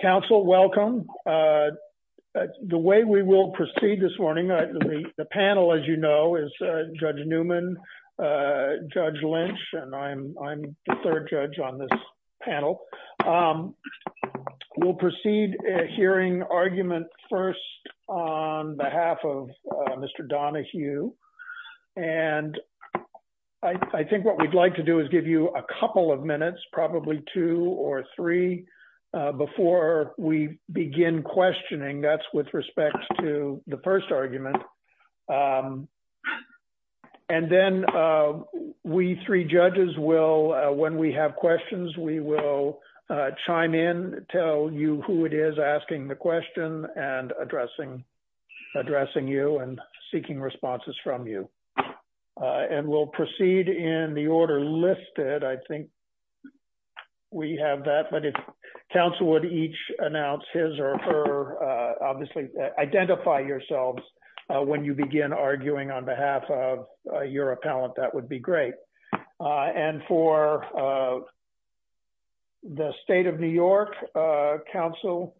Council, welcome. The way we will proceed this morning, the panel as you know is Judge Newman, Judge Lynch, and I'm the third judge on this panel. We'll proceed hearing argument first on behalf of Mr. Donohue. And I think what we'd like to do is give you a couple of minutes, probably two or three, before we begin questioning. That's with respect to the first argument. And then we three judges will, when we have questions, we will chime in, tell you who it is asking the question and addressing you and seeking responses from you. And we'll proceed in the order listed. I think we have that. But if counsel would each announce his or her, obviously, identify yourselves when you begin arguing on behalf of your appellant, that would be great. And for the State of New York Council,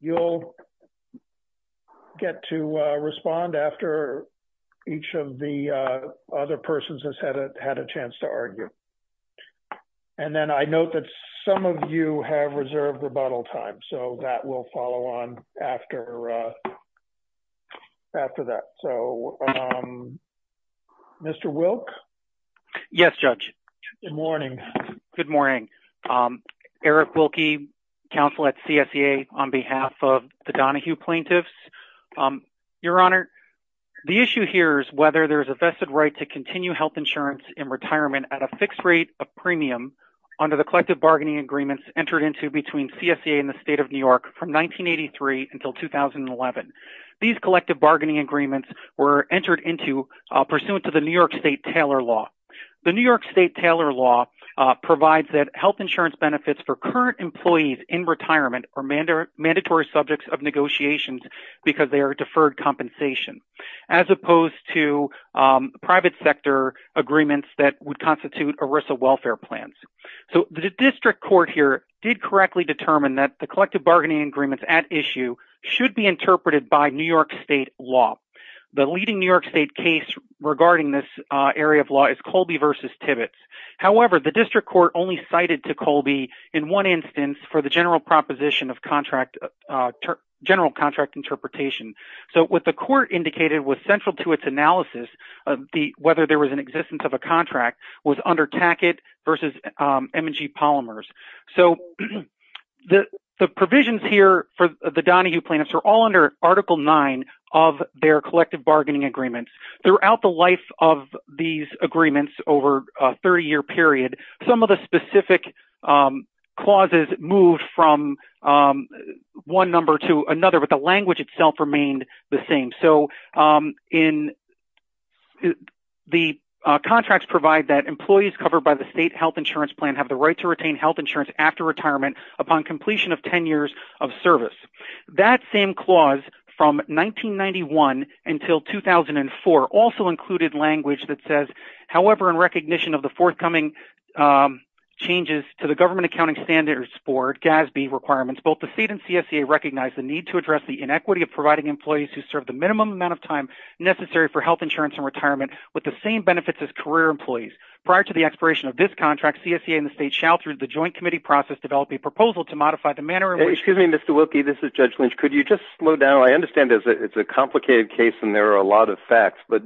you'll get to respond after each of the other persons has had a chance to argue. And then I note that some of you have reserved rebuttal time, so that will follow on after that. So, Mr. Wilke? Yes, Judge. Good morning. Good morning. Eric Wilke, counsel at CSEA on behalf of the Donohue plaintiffs. Your Honor, the issue here is whether there's a vested right to continue health insurance in retirement at a fixed rate of premium under the collective bargaining agreements entered into between CSEA and the State of New York from 1983 until 2011. These collective bargaining agreements were entered into pursuant to the New York State Taylor Law. The New York State Taylor Law provides that health insurance benefits for current employees in retirement are mandatory subjects of negotiations because they are deferred as opposed to private sector agreements that would constitute ERISA welfare plans. So, the district court here did correctly determine that the collective bargaining agreements at issue should be interpreted by New York State law. The leading New York State case regarding this area of law is Colby v. Tibbetts. However, the district court only cited to Colby in one instance for the general proposition of general contract interpretation. So, what the court indicated was central to its analysis of whether there was an existence of a contract was under Tackett v. M&G Polymers. So, the provisions here for the Donohue plaintiffs are all under Article 9 of their collective bargaining agreements. Throughout the life of these agreements over a 30-year period, some of the specific clauses moved from one number to another, but the language itself remained the same. So, the contracts provide that employees covered by the state health insurance plan have the right to retain health insurance after retirement upon completion of 10 years of service. That same clause from 1991 until 2004 also included language that says, however, in recognition of the forthcoming changes to the government accounting standards for GASB requirements, both the state and CSCA recognize the need to address the inequity of providing employees who serve the minimum amount of time necessary for health insurance and retirement with the same benefits as career employees. Prior to the expiration of this contract, CSCA and the state shall, through the joint committee process, develop a proposal to modify the manner in which… Excuse me, Mr. Wilkie. This is Judge Lynch. Could you just slow down? I understand it's a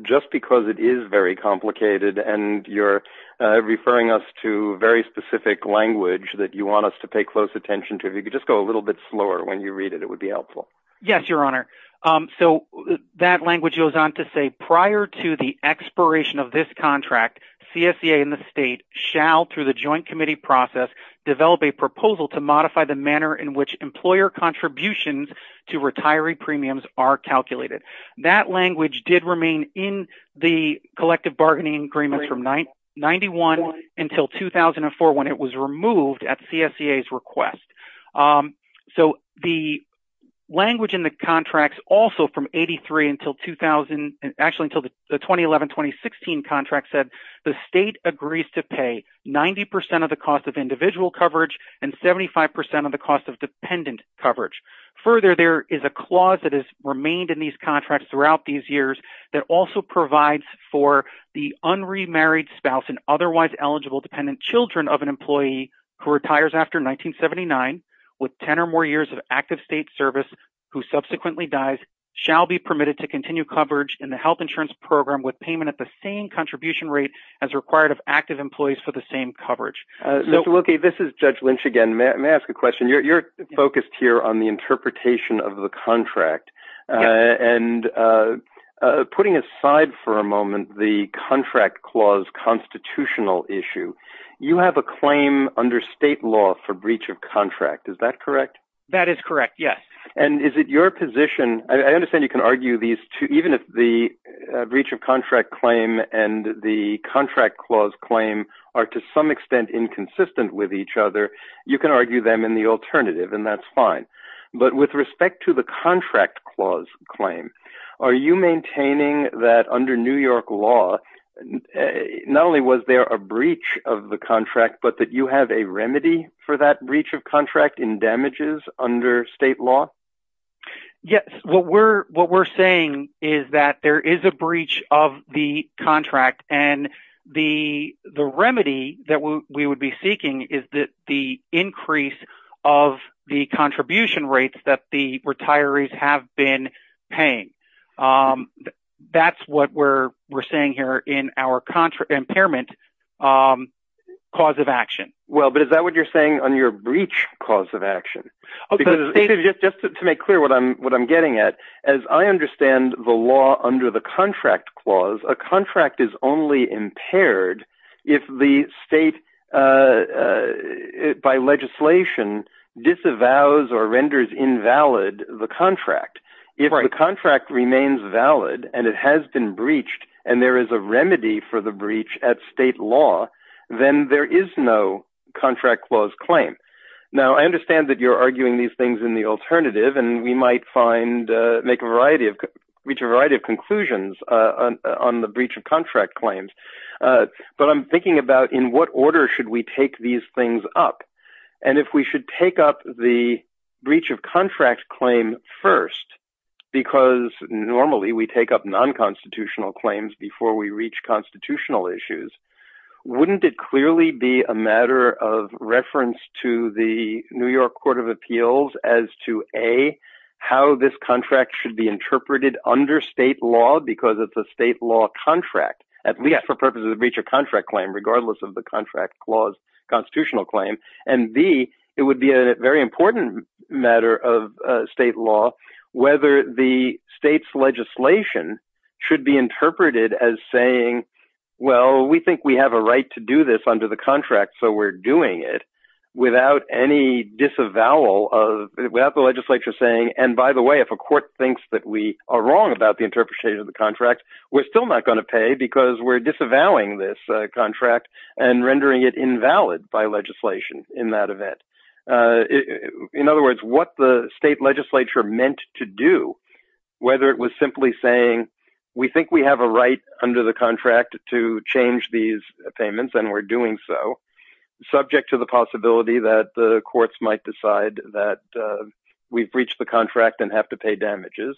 just because it is very complicated and you're referring us to very specific language that you want us to pay close attention to. If you could just go a little bit slower when you read it, it would be helpful. Yes, your honor. So, that language goes on to say, prior to the expiration of this contract, CSCA and the state shall, through the joint committee process, develop a proposal to modify the manner in which employer contributions to retiree premiums are calculated. That language did remain in the collective bargaining agreement from 1991 until 2004 when it was removed at CSCA's request. So, the language in the contract also from 83 until 2000, actually until the 2011-2016 contract said, the state agrees to pay 90% of the cost of individual coverage and 75% of the cost of dependent coverage. Further, there is a clause that has remained in these contracts throughout these years that also provides for the unremarried spouse and otherwise eligible dependent children of an employee who retires after 1979 with 10 or more years of active state service who subsequently dies shall be permitted to continue coverage in the health insurance program with payment at the same contribution rate as required of active employees for the same coverage. Mr. Wilkie, this is Judge Lynch again. May I ask a question? You're focused here on the interpretation of the contract and putting aside for a moment the contract clause constitutional issue, you have a claim under state law for breach of contract. Is that correct? That is correct. Yes. And is it your position, I understand you can argue these two, even if the can argue them in the alternative and that's fine, but with respect to the contract clause claim, are you maintaining that under New York law, not only was there a breach of the contract, but that you have a remedy for that breach of contract in damages under state law? Yes. What we're saying is that there is a breach of the contract and the remedy that we would be seeking is that the increase of the contribution rates that the retirees have been paying. That's what we're saying here in our impairment cause of action. Well, but is that what you're saying on your breach cause of action? Just to make clear what I'm getting at, as I understand the law under the contract clause, a contract is only impaired if the state by legislation disavows or renders invalid the contract. If the contract remains valid and it has been breached and there is a remedy for the breach at state law, then there is no contract clause claim. Now I understand that you're arguing these things in the alternative and we might reach a variety of conclusions on the breach of contract claims. But I'm thinking about in what order should we take these things up? And if we should take up the breach of contract claim first, because normally we take up non-constitutional claims before we reach constitutional issues, wouldn't it clearly be a matter of reference to the New York Court of Appeals as to A, how this contract should be interpreted under state law because it's a state contract, at least for purposes of the breach of contract claim, regardless of the contract clause constitutional claim. And B, it would be a very important matter of state law whether the state's legislation should be interpreted as saying, well, we think we have a right to do this under the contract, so we're doing it without any disavowal of, without the legislature saying, and by the way, if a court thinks that we are wrong about the interpretation of the contract, we're still not going to pay because we're disavowing this contract and rendering it invalid by legislation in that event. In other words, what the state legislature meant to do, whether it was simply saying, we think we have a right under the contract to change these payments and we're doing so, subject to the possibility that the courts might decide that we've breached the contract and have to pay damages,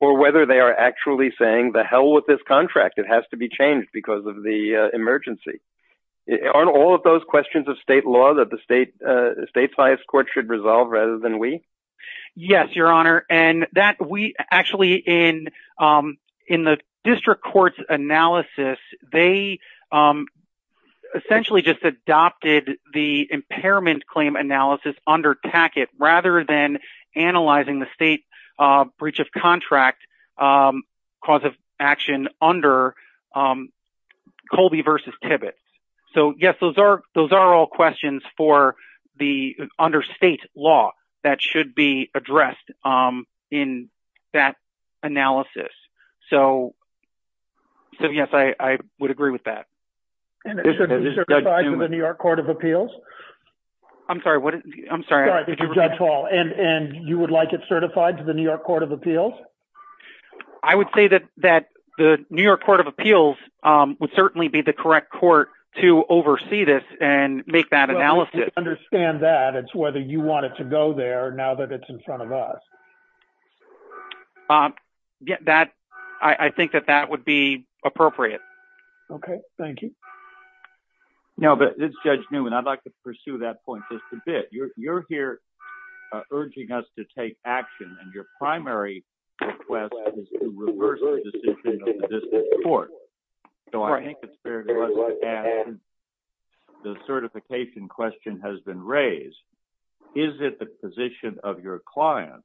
or whether they are actually saying, the hell with this contract, it has to be changed because of the emergency. Aren't all of those questions of state law that the state's biased court should resolve rather than we? Yes, your honor. And that we actually, in the district court's analysis, they essentially just adopted the impairment claim analysis under Tackett rather than analyzing the state breach of contract cause of action under Colby versus Tibbetts. So yes, those are all questions for the under state law that should be addressed in that analysis. So yes, I would agree with that. And it should be certified to the New York Court of Appeals? I'm sorry, I'm sorry. And you would like it certified to the New York Court of Appeals? I would say that the New York Court of Appeals would certainly be the correct court to oversee this and make that analysis. I don't understand that. It's whether you want it to go there now that it's in front of us. I think that that would be appropriate. Okay, thank you. Now, Judge Newman, I'd like to pursue that point just a bit. You're here urging us to take action and your primary request is to reverse the decision of the district court. So I think it's of your client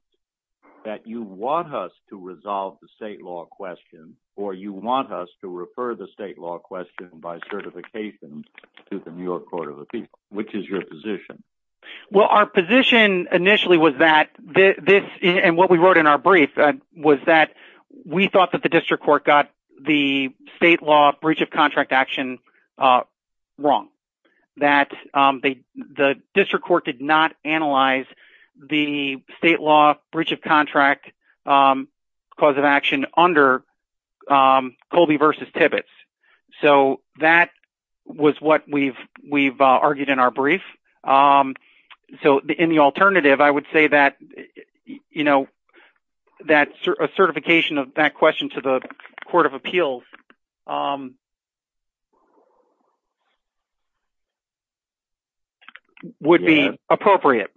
that you want us to resolve the state law question or you want us to refer the state law question by certification to the New York Court of Appeals. Which is your position? Well, our position initially was that this and what we wrote in our brief was that we thought that the district court got the state law breach of contract action wrong. That the district court did not analyze the state law breach of contract cause of action under Colby v. Tibbetts. So that was what we've argued in our brief. So in the alternative, I would say that a certification of that question to the New York Court of Appeals would be appropriate.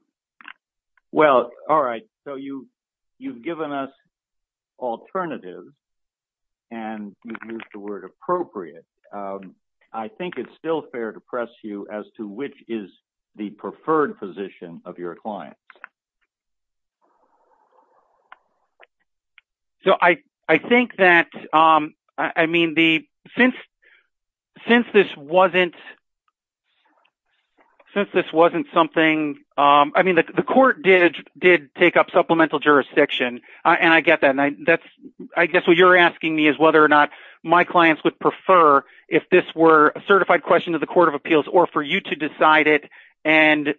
Well, all right. So you've given us alternative and you've used the word appropriate. I think it's still fair to press you as to which is the preferred position of your client. So I think that, I mean, since this wasn't something, I mean, the court did take up supplemental jurisdiction and I get that. I guess what you're asking me is whether or not my clients would prefer if this were a certified question to the court of appeals or for you to and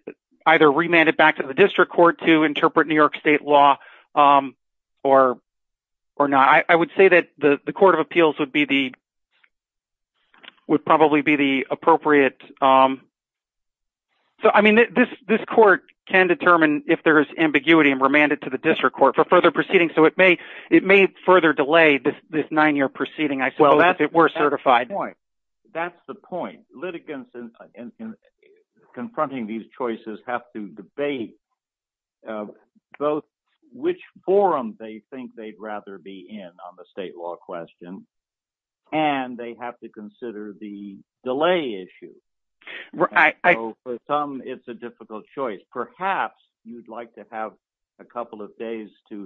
either remand it back to the district court to interpret New York state law or not. I would say that the court of appeals would probably be the appropriate. So, I mean, this court can determine if there's ambiguity and remand it to the district court for further proceedings. So it may further delay this nine-year proceeding, I suppose, if it were certified. That's the point. Litigants confronting these choices have to debate both which forum they think they'd rather be in on the state law question and they have to consider the delay issue. For some, it's a difficult choice. Perhaps you'd like to have a couple of days to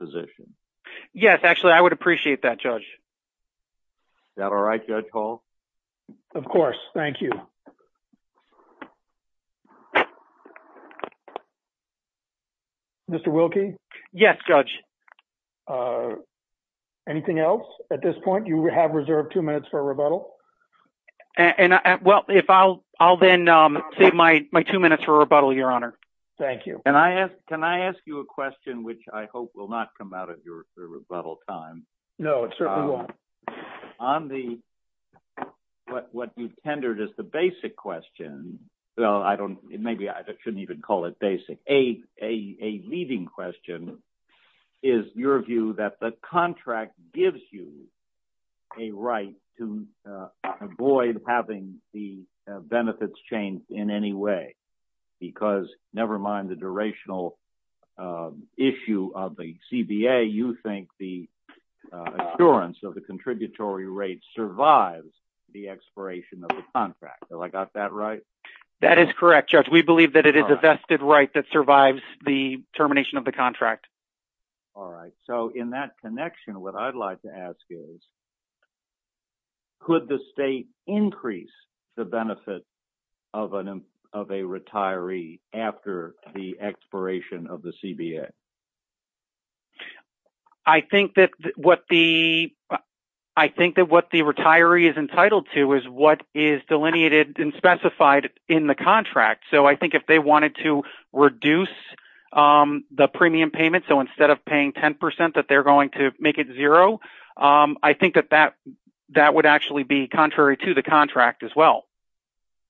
position. Yes, actually, I would appreciate that, Judge. Is that all right, Judge Hall? Of course. Thank you. Mr. Wilkie? Yes, Judge. Anything else at this point? You have reserved two minutes for rebuttal. Well, I'll then save my two minutes for rebuttal, Your Honor. Thank you. Can I ask you a question which I hope will not come out of your rebuttal time? No, it certainly won't. On what you've tendered as the basic question, well, maybe I shouldn't even call it basic. A leading question is your view that the contract gives you a right to avoid having the benefits changed in any way because, never mind the durational issue of the CBA, you think the assurance of the contributory rate survives the expiration of the contract. Have I got that right? That is correct, Judge. We believe that it is a vested right that survives the termination of the contract. All right. So, in that connection, what I'd like to ask is, could the state increase the benefit of a retiree after the expiration of the CBA? I think that what the retiree is entitled to is what is delineated and specified in the contract. So, I think if they wanted to reduce the premium payment, so instead of paying that they're going to make it zero, I think that that would actually be contrary to the contract as well.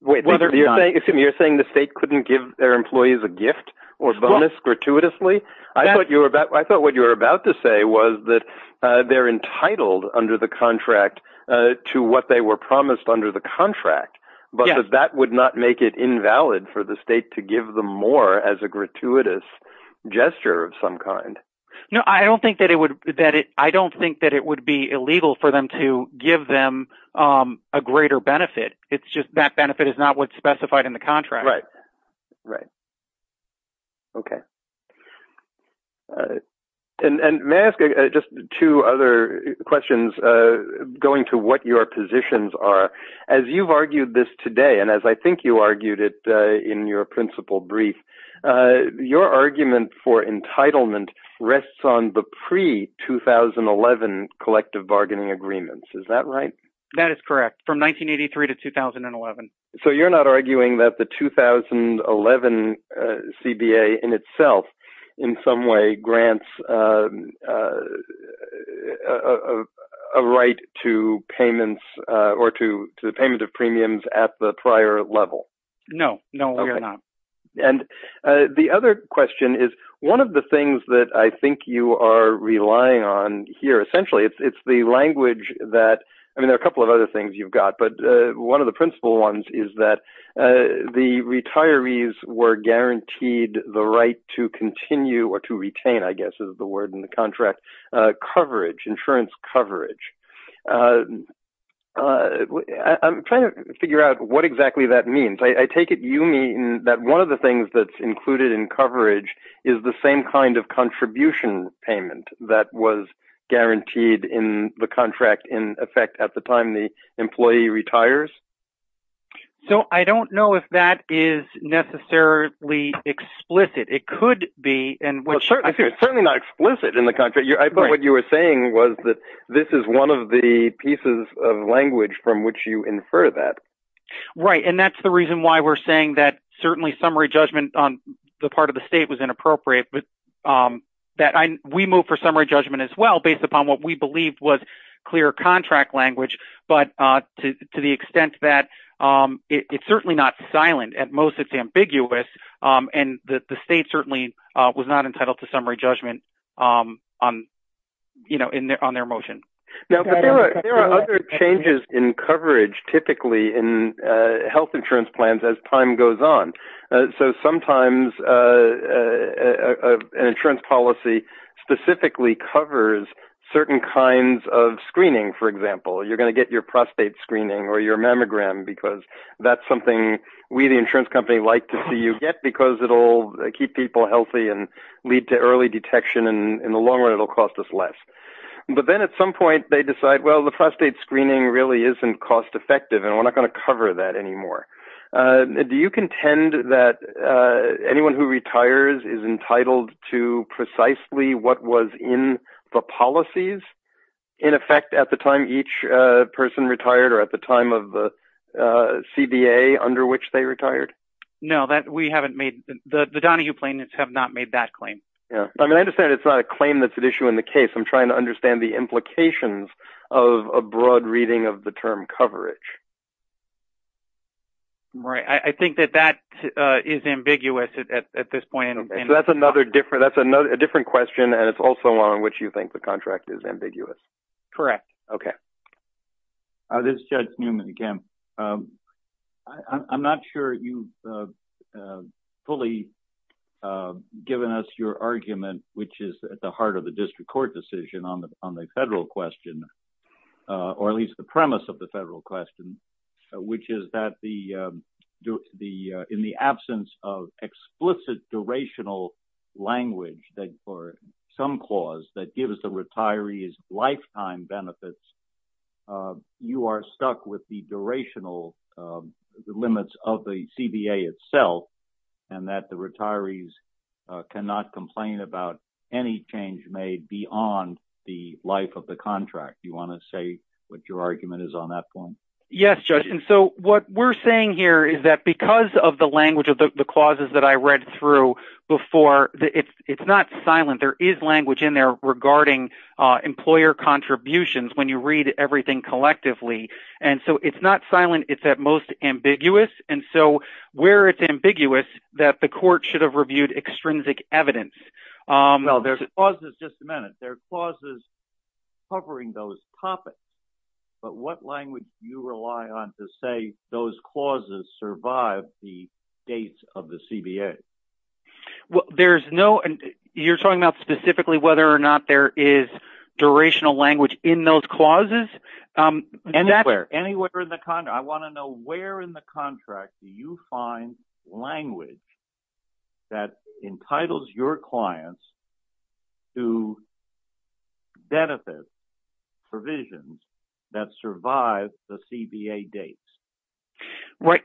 You're saying the state couldn't give their employees a gift or bonus gratuitously? I thought what you're about to say was that they're entitled under the contract to what they were promised under the contract, but that would not make it invalid for the state to give them more as a gratuitous gesture of some kind. I don't think that it would be illegal for them to give them a greater benefit. It's just that benefit is not what's specified in the contract. May I ask just two other questions going to what your positions are? As you've argued this today, and as I think you argued it in your principle brief, your argument for entitlement rests on the pre-2011 collective bargaining agreements. Is that right? That is correct, from 1983 to 2011. So, you're not arguing that the 2011 CBA in itself in some way grants a right to the payment of No. No, we are not. The other question is one of the things that I think you are relying on here. Essentially, there are a couple of other things you've got, but one of the principal ones is that the retirees were guaranteed the right to continue or to retain insurance coverage. I'm trying to figure out what exactly that means. I take it you mean that one of the things that's included in coverage is the same kind of contribution payment that was guaranteed in the contract in effect at the time the employee retires? So, I don't know if that is necessarily explicit. It could be. It's certainly not explicit in the contract. I thought what you were saying was that this is one of the pieces of language from which you infer that. Right, and that's the reason why we're saying that certainly summary judgment on the part of the state was inappropriate. We move for summary judgment as well, based upon what we believed was clear contract language, but to the extent that it's certainly not silent, at most it's ambiguous, and the state certainly was not entitled to summary judgment on their motion. There are other changes in coverage, typically, in health insurance plans as time goes on. Sometimes, an insurance policy specifically covers certain kinds of screening, for example. You're going to get your prostate screening or we, the insurance company, like to see you get because it'll keep people healthy and lead to early detection, and in the long run, it'll cost us less. But then at some point, they decide, well, the prostate screening really isn't cost-effective, and we're not going to cover that anymore. Do you contend that anyone who retires is entitled to precisely what was in the policies? In effect, at the time each person retired, or at the time of the CBA under which they retired? No. The Donahue plaintiffs have not made that claim. I understand it's not a claim that's at issue in the case. I'm trying to understand the implications of a broad reading of the term coverage. I think that that is ambiguous at this point. That's a different question, and it's also one in which you think the contract is ambiguous. Correct. Okay. This is Judge Newman again. I'm not sure you've fully given us your argument, which is at the heart of the district court decision on the federal question, or at least the premise of the federal question, which is that in the absence of explicit durational language for some clause that gives the retirees lifetime benefits, you are stuck with the durational limits of the CBA itself, and that the retirees cannot complain about any change made beyond the life of the contract. Do you want to say what your argument is on that point? Yes, Judge. What we're saying here is that because of the language of the it's not silent. There is language in there regarding employer contributions when you read everything collectively, and so it's not silent. It's at most ambiguous, and so where it's ambiguous that the court should have reviewed extrinsic evidence. There's clauses covering those topics, but what language do you rely on to say those clauses survive the dates of the CBA? Well, you're talking about specifically whether or not there is durational language in those clauses? Anywhere in the contract. I want to know where in the contract do you find language that entitles your clients to benefit provisions that survive the CBA dates? Right.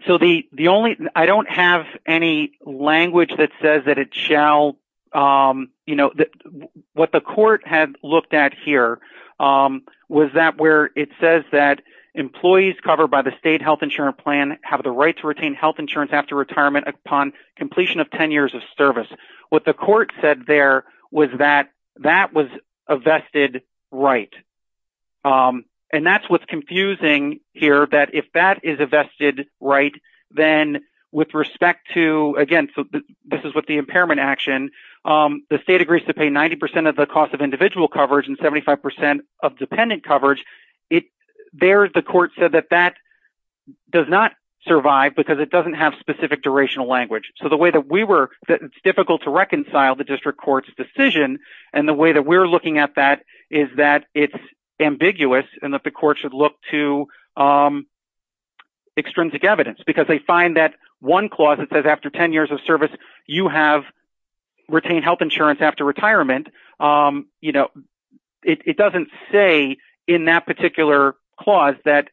I don't have any language that says that it shall, what the court had looked at here was that where it says that employees covered by the state health insurance plan have the right to retain health insurance after retirement upon completion of 10 years of service. What the court said there was that that was a vested right, and that's what's a vested right. Then with respect to, again, this is with the impairment action, the state agrees to pay 90% of the cost of individual coverage and 75% of dependent coverage. There, the court said that that does not survive because it doesn't have specific durational language. So the way that we work, it's difficult to reconcile the district court's decision, and the way that we're looking at that is that it's ambiguous, and that the court should look to extrinsic evidence because they find that one clause that says after 10 years of service, you have retained health insurance after retirement. It doesn't say in that particular clause that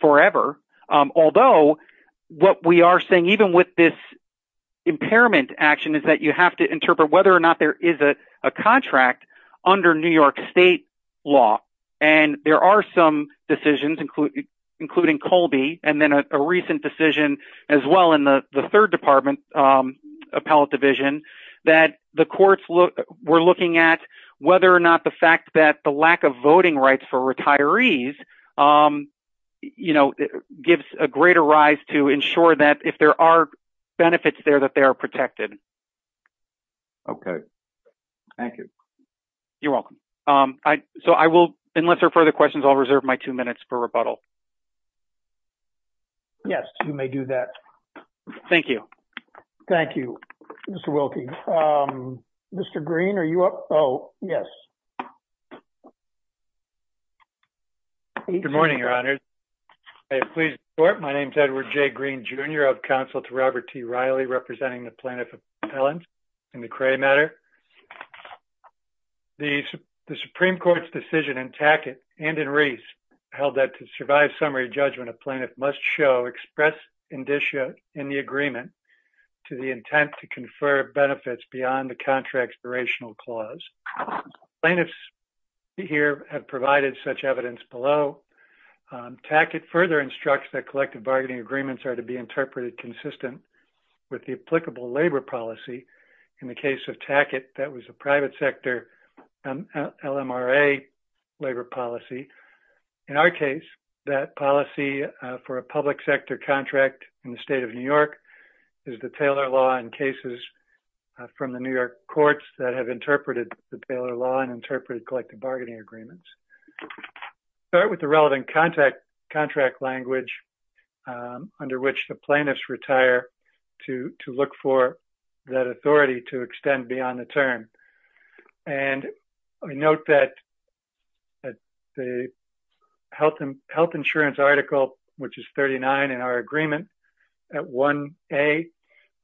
forever, although what we are saying even with this impairment action is that you have to interpret whether or not there is a contract under New York state law. There are some decisions, including Colby, and then a recent decision as well in the third department appellate division that the courts were looking at whether or not the fact that the lack of voting rights for retirees gives a greater rise to ensure that if there are benefits there that they are protected. Thank you. You're welcome. So I will, unless there are further questions, I'll reserve my two minutes for rebuttal. Yes, you may do that. Thank you. Thank you, Mr. Wilkie. Mr. Green, are you up? Oh, yes. Good morning, your honors. My name is Edward J. Green, Jr. of counsel to Robert T. Riley, representing the plaintiff in the Cray matter. The Supreme Court's decision in Tackett and in Reese held that to survive summary judgment, a plaintiff must show express indicia in the agreement to the intent to confer benefits beyond the contract's durational clause. Plaintiffs here have provided such evidence below. Tackett further instructs that collective bargaining agreements are to be interpreted consistent with the applicable labor policy. In the case of Tackett, that was a private sector LMRA labor policy. In our case, that policy for a public sector contract in the state of New York is the Taylor law in cases from the New York courts that have interpreted the Taylor law and interpreted collective bargaining agreements. Start with the under which the plaintiffs retire to look for that authority to extend beyond the term. I note that the health insurance article, which is 39 in our agreement, at 1A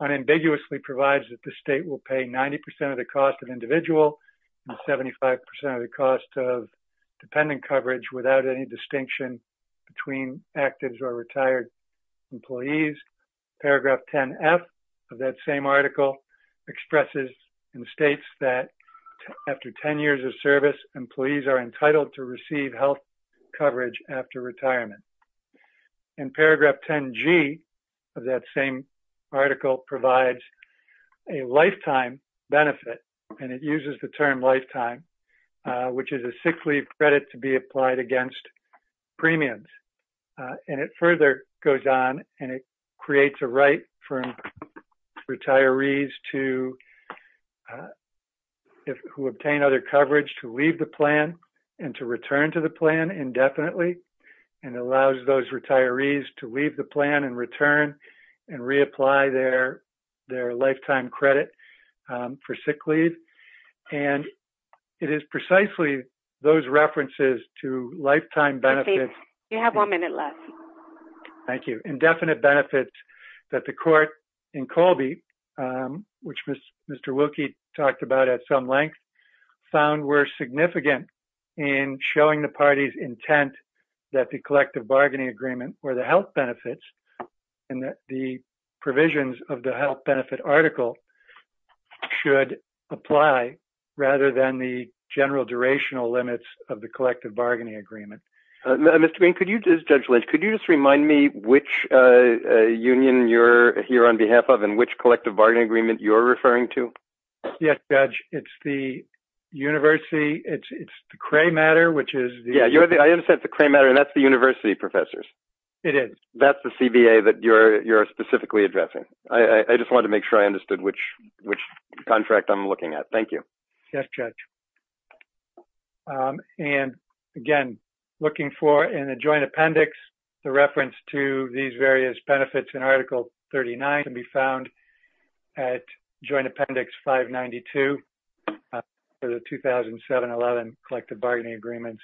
unambiguously provides that the state will pay 90% of the cost of individual and 75% of the cost of distinction between active or retired employees. Paragraph 10F of that same article expresses and states that after 10 years of service, employees are entitled to receive health coverage after retirement. In paragraph 10G of that same article provides a lifetime benefit and uses the term lifetime, which is a sick leave credit to be applied against premiums. It further goes on and creates a right for retirees who obtain other coverage to leave the plan and to return to the plan indefinitely and allows those retirees to leave the plan and and reapply their lifetime credit for sick leave. It is precisely those references to lifetime benefits. Thank you. Indefinite benefits that the court in Colby, which Mr. Wilkie talked about at some length, found were significant in showing the parties intent that the collective bargaining agreement or the health benefits and that the provisions of the health benefit article should apply rather than the general durational limits of the collective bargaining agreement. Mr. Bean, could you just remind me which union you're here on behalf of and which collective bargaining agreement you're referring to? Yes, it's the university. It's the Cray matter, which is the university professors. It is. That's the CBA that you're specifically addressing. I just want to make sure I understood which contract I'm looking at. Thank you. Again, looking for in a joint appendix, the reference to these various benefits in article 39 can be found at joint appendix 592 for the 2007-11 collective bargaining agreements.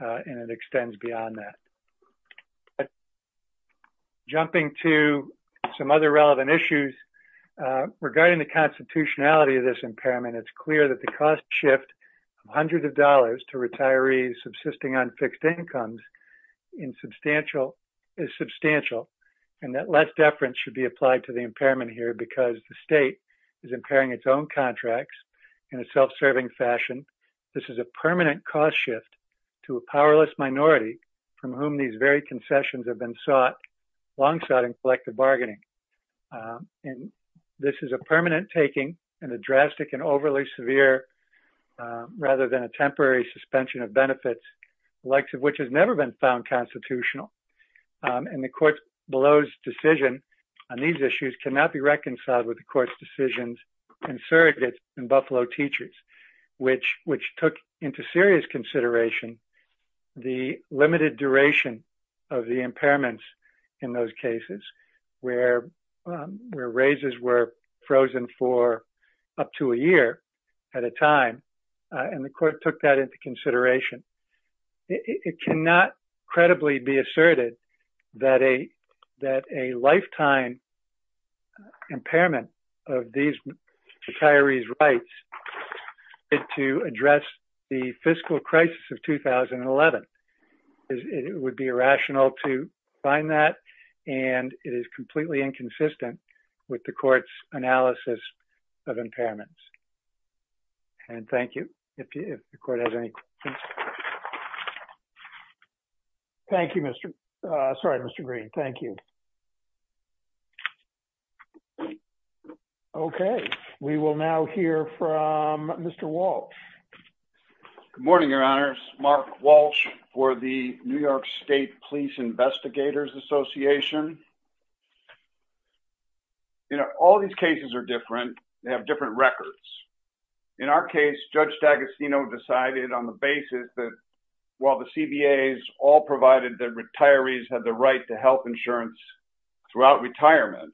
And it extends beyond that. Jumping to some other relevant issues, regarding the constitutionality of this impairment, it's clear that the cost shift of hundreds of dollars to retirees subsisting on fixed incomes is substantial and that less deference should be applied to the impairment here because the state is impairing its own contracts in a self-serving fashion. This is a permanent cost shift to a powerless minority from whom these very concessions have been sought alongside collective bargaining. And this is a permanent taking and a drastic and overly severe rather than a temporary suspension of benefits, which has never been found constitutional. And the court's decision on these issues cannot be reconciled with the court's decisions in surrogates and Buffalo teachers, which took into serious consideration the limited duration of the impairments in those It cannot credibly be asserted that a lifetime impairment of these retirees' rights to address the fiscal crisis of 2011. It would be irrational to find that, and it is completely inconsistent with the court's analysis of impairments. And thank you. Thank you, Mr. Green. Thank you. Okay. We will now hear from Mr. Walsh. Good morning, Your Honors. Mark Walsh for the New York State Police Investigators Association. You know, all these cases are different. They have different records. In our case, Judge D'Agostino decided on the basis that while the CBAs all provided that retirees had the right to health insurance throughout retirement,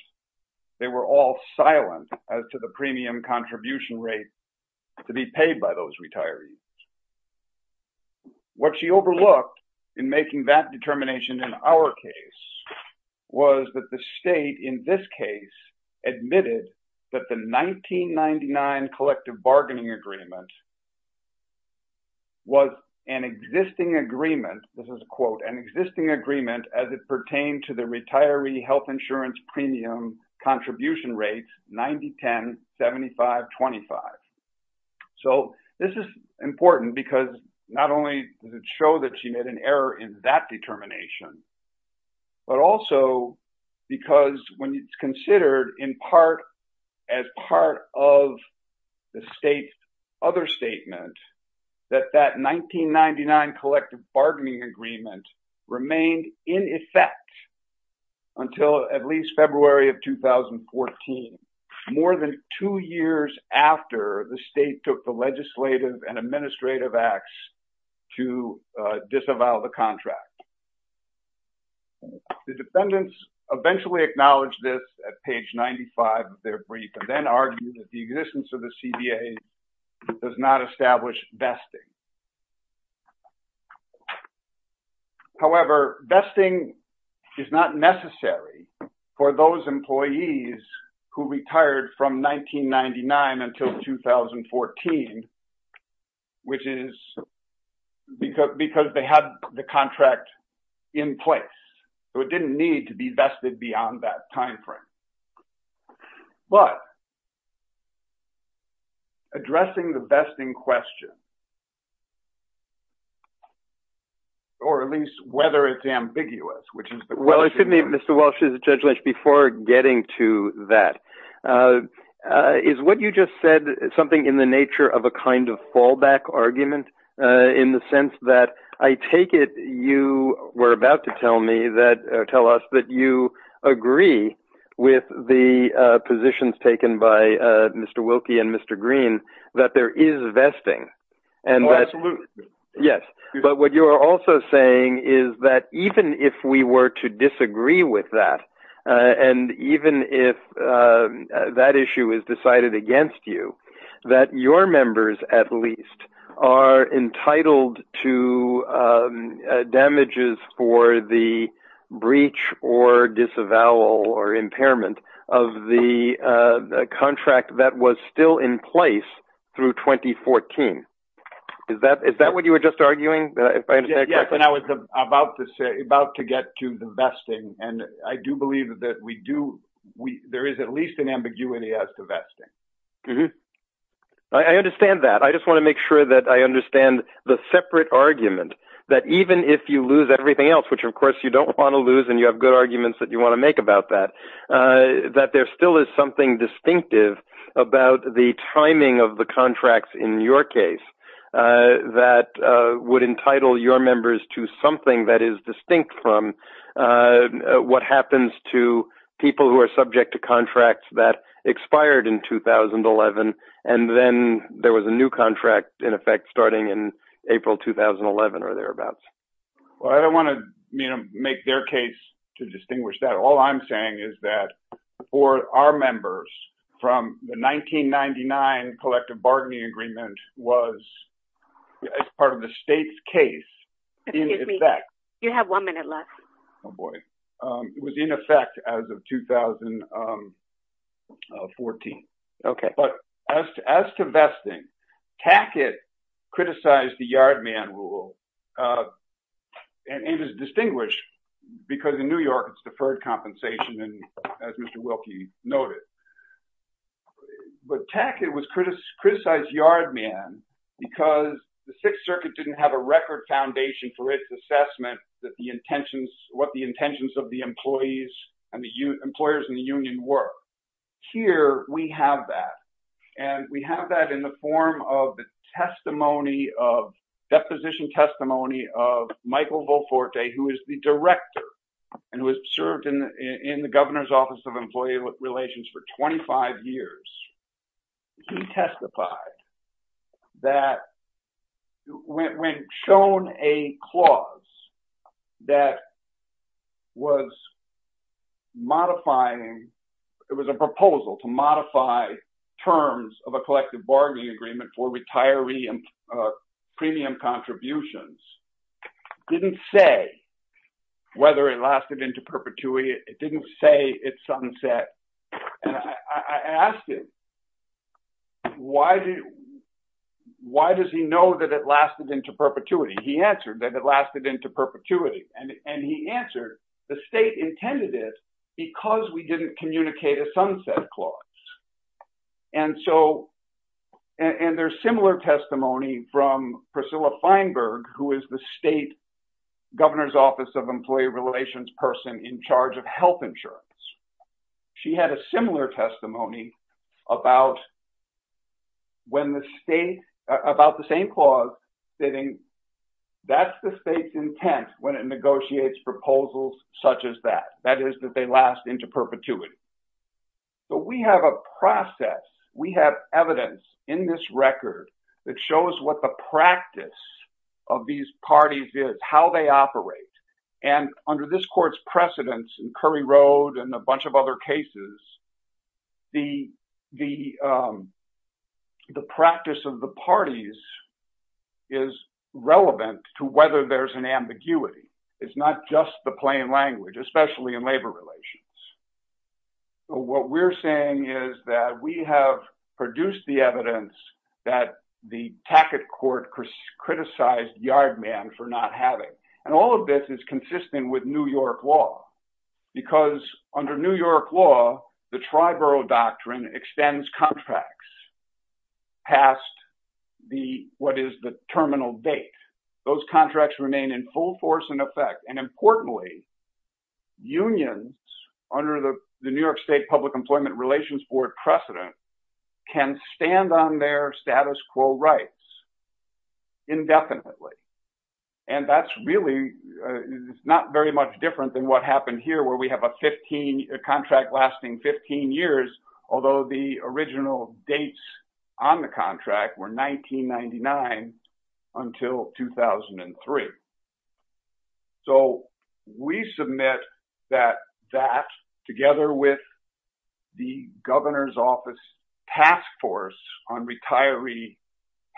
they were all silent as to the premium contribution rate to be paid by those retirees. What she overlooked in making that determination in our case was that the state in this case admitted that the 1999 collective bargaining agreement was an existing agreement, this is a quote, an existing agreement as it pertained to the retiree health insurance premium contribution rate, 90-10, 75-25. So this is important because not only does it show that she made an error in that determination, but also because when considered in part as part of the state's other statement, that that 1999 collective bargaining agreement remained in effect until at least February of 2014, more than two years after the state took the legislative and administrative acts to disavow the contract. The defendants eventually acknowledged this at page 95 of their brief and then argued that the existence of the CBA does not establish vesting. However, vesting is not necessary for those employees who retired from 1999 until 2014, which is because they had the contract in place. So it did not need to be vested beyond that timeframe. But addressing the vesting question, or at least whether it's ambiguous, which is the question. Well, excuse me, Mr. Walsh, before getting to that, is what you just said something in the nature of a kind of fallback argument in the sense that I take it you were about to tell us that you agree with the positions taken by Mr. Wilkie and Mr. Green that there is vesting and what you're also saying is that even if we were to disagree with that, and even if that issue is decided against you, that your members at least are entitled to damages for the breach or disavowal or impairment of the contract that was still in place through 2014. Is that what you were just arguing? Yes, and I was about to get to the vesting, and I do believe that there is at least an ambiguity as to vesting. I understand that. I just want to make sure that I understand the separate argument that even if you lose everything else, which of course you don't want to lose and you have good arguments that you want to make about that, that there still is something distinctive about the timing of the contracts in your case that would entitle your members to something that is distinct from what happens to people who are subject to contracts that expired in 2011 and then there was a new contract in effect starting in April 2011 or thereabouts. Well, I don't want to make their case to distinguish that. All I'm saying is that for our members, from the 1999 collective bargaining agreement was as part of the state's case. Excuse me. You have one minute left. Oh boy. It was in effect as of 2014. Okay. But as to vesting, Tackett criticized the Yard Man rule, and it is distinguished because in New York it's deferred compensation as Mr. Wilkie noted. But Tackett was criticized Yard Man because the Sixth Circuit didn't have a record foundation for its assessment that the intentions, what the intentions of the employees and the employers in the union were. Here we have that, and we have that in the form of the testimony of, deposition testimony of the director and who has served in the governor's office of employee relations for 25 years. He testified that when shown a clause that was modifying, it was a proposal to modify terms of a collective bargaining agreement for retiree and premium contributions, didn't say whether it lasted into perpetuity. It didn't say it's sunset. And I asked him, why does he know that it lasted into perpetuity? He answered that it lasted into perpetuity. And he answered the state intended it because we didn't communicate a sunset clause. And so, and there's similar testimony from Priscilla Feinberg, who is the state governor's office of employee relations person in charge of health insurance. She had a similar testimony about when the state, about the same clause, that's the state's intent when it negotiates proposals such as that, that is that they last into perpetuity. So we have a process, we have evidence in this record that shows what the practice of these parties is, how they operate. And under this court's precedents and Curry Road and a bunch of other cases, the practice of the parties is relevant to whether there's an What we're saying is that we have produced the evidence that the Tackett court criticized Yard Man for not having. And all of this is consistent with New York law, because under New York law, the Triborough Doctrine extends contracts past what is the terminal date. Those contracts remain in full force and effect. And importantly, unions under the New York State Public Employment Relations Board precedent can stand on their status quo rights indefinitely. And that's really not very much different than what happened here where we have a 15, a contract lasting 15 years, although the original dates on the contract were 1999 until 2003. So we submit that that together with the governor's office task force on retiree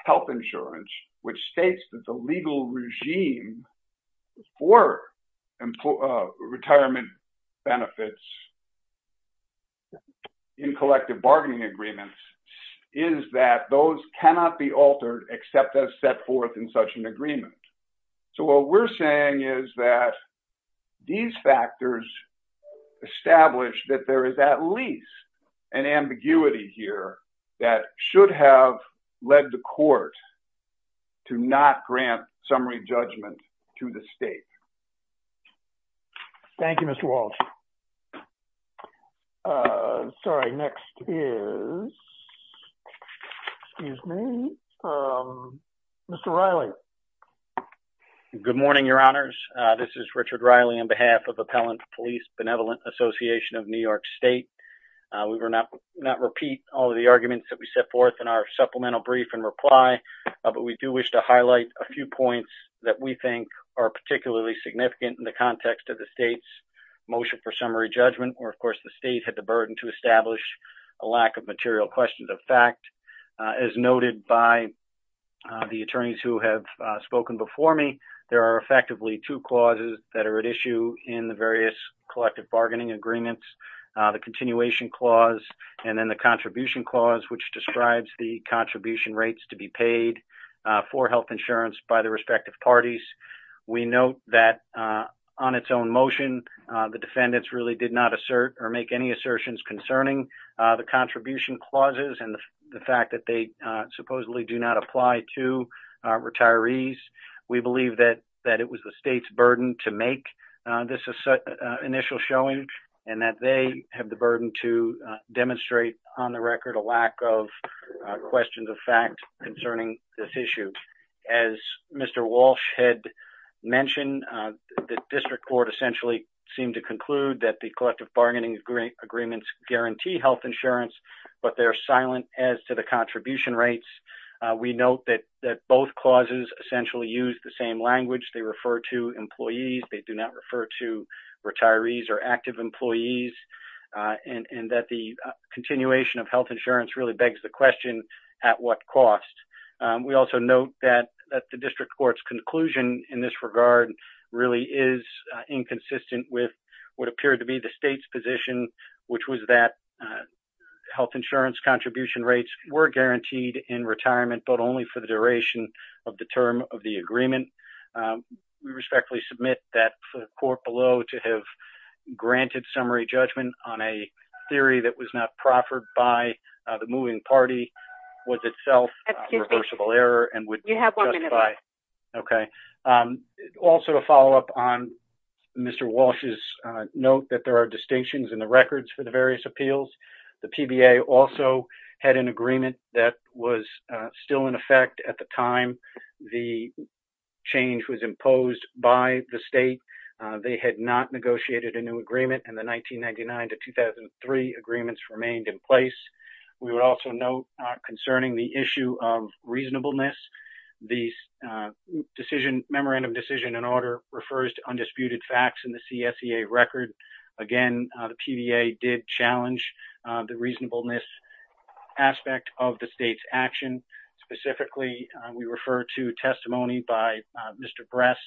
health insurance, which states that the legal regime for retirement benefits in collective bargaining agreements is that those cannot be altered, except as set forth in such an agreement. So what we're saying is that these factors establish that there is at least an ambiguity here that should have led the court to not grant summary judgment to the state. Thank you, Mr. Walsh. Sorry, next is, excuse me, Mr. Riley. Good morning, your honors. This is Richard Riley on behalf of Appellant Police Benevolent Association of New York State. We will not but we do wish to highlight a few points that we think are particularly significant in the context of the state's motion for summary judgment, or of course, the state had the burden to establish a lack of material questions of fact, as noted by the attorneys who have spoken before me, there are effectively two clauses that are at issue in the various collective bargaining agreements, the continuation clause, and then the contribution clause, which describes the contribution rates to be paid for health insurance by the respective parties. We note that on its own motion, the defendants really did not assert or make any assertions concerning the contribution clauses and the fact that they supposedly do not apply to retirees. We believe that it was the state's burden to make this initial showing and that they have the burden to demonstrate on the record a lack of questions of fact concerning this issue. As Mr. Walsh had mentioned, the district court essentially seemed to conclude that the collective bargaining agreements guarantee health insurance, but they're silent as to the contribution rates. We note that both clauses essentially use the same language, they refer to employees, they do not refer to retirees or active employees, and that the continuation of health insurance really begs the question, at what cost? We also note that the district court's conclusion in this regard really is inconsistent with what appeared to be the state's position, which was that health insurance contribution rates were guaranteed in retirement, but only for the court below to have granted summary judgment on a theory that was not proffered by the moving party was itself a reversible error. Also, to follow up on Mr. Walsh's note that there are distinctions in the records for the various appeals, the PBA also had an agreement that was still in effect at the time the change was imposed by the state. They had not negotiated a new agreement in the 1999 to 2003 agreements remained in place. We would also note concerning the issue of reasonableness, the memorandum decision in order refers to undisputed facts in the CSEA record. Again, the PBA did challenge the reasonableness aspect of the state's action. Specifically, we refer to testimony by Mr. Bress,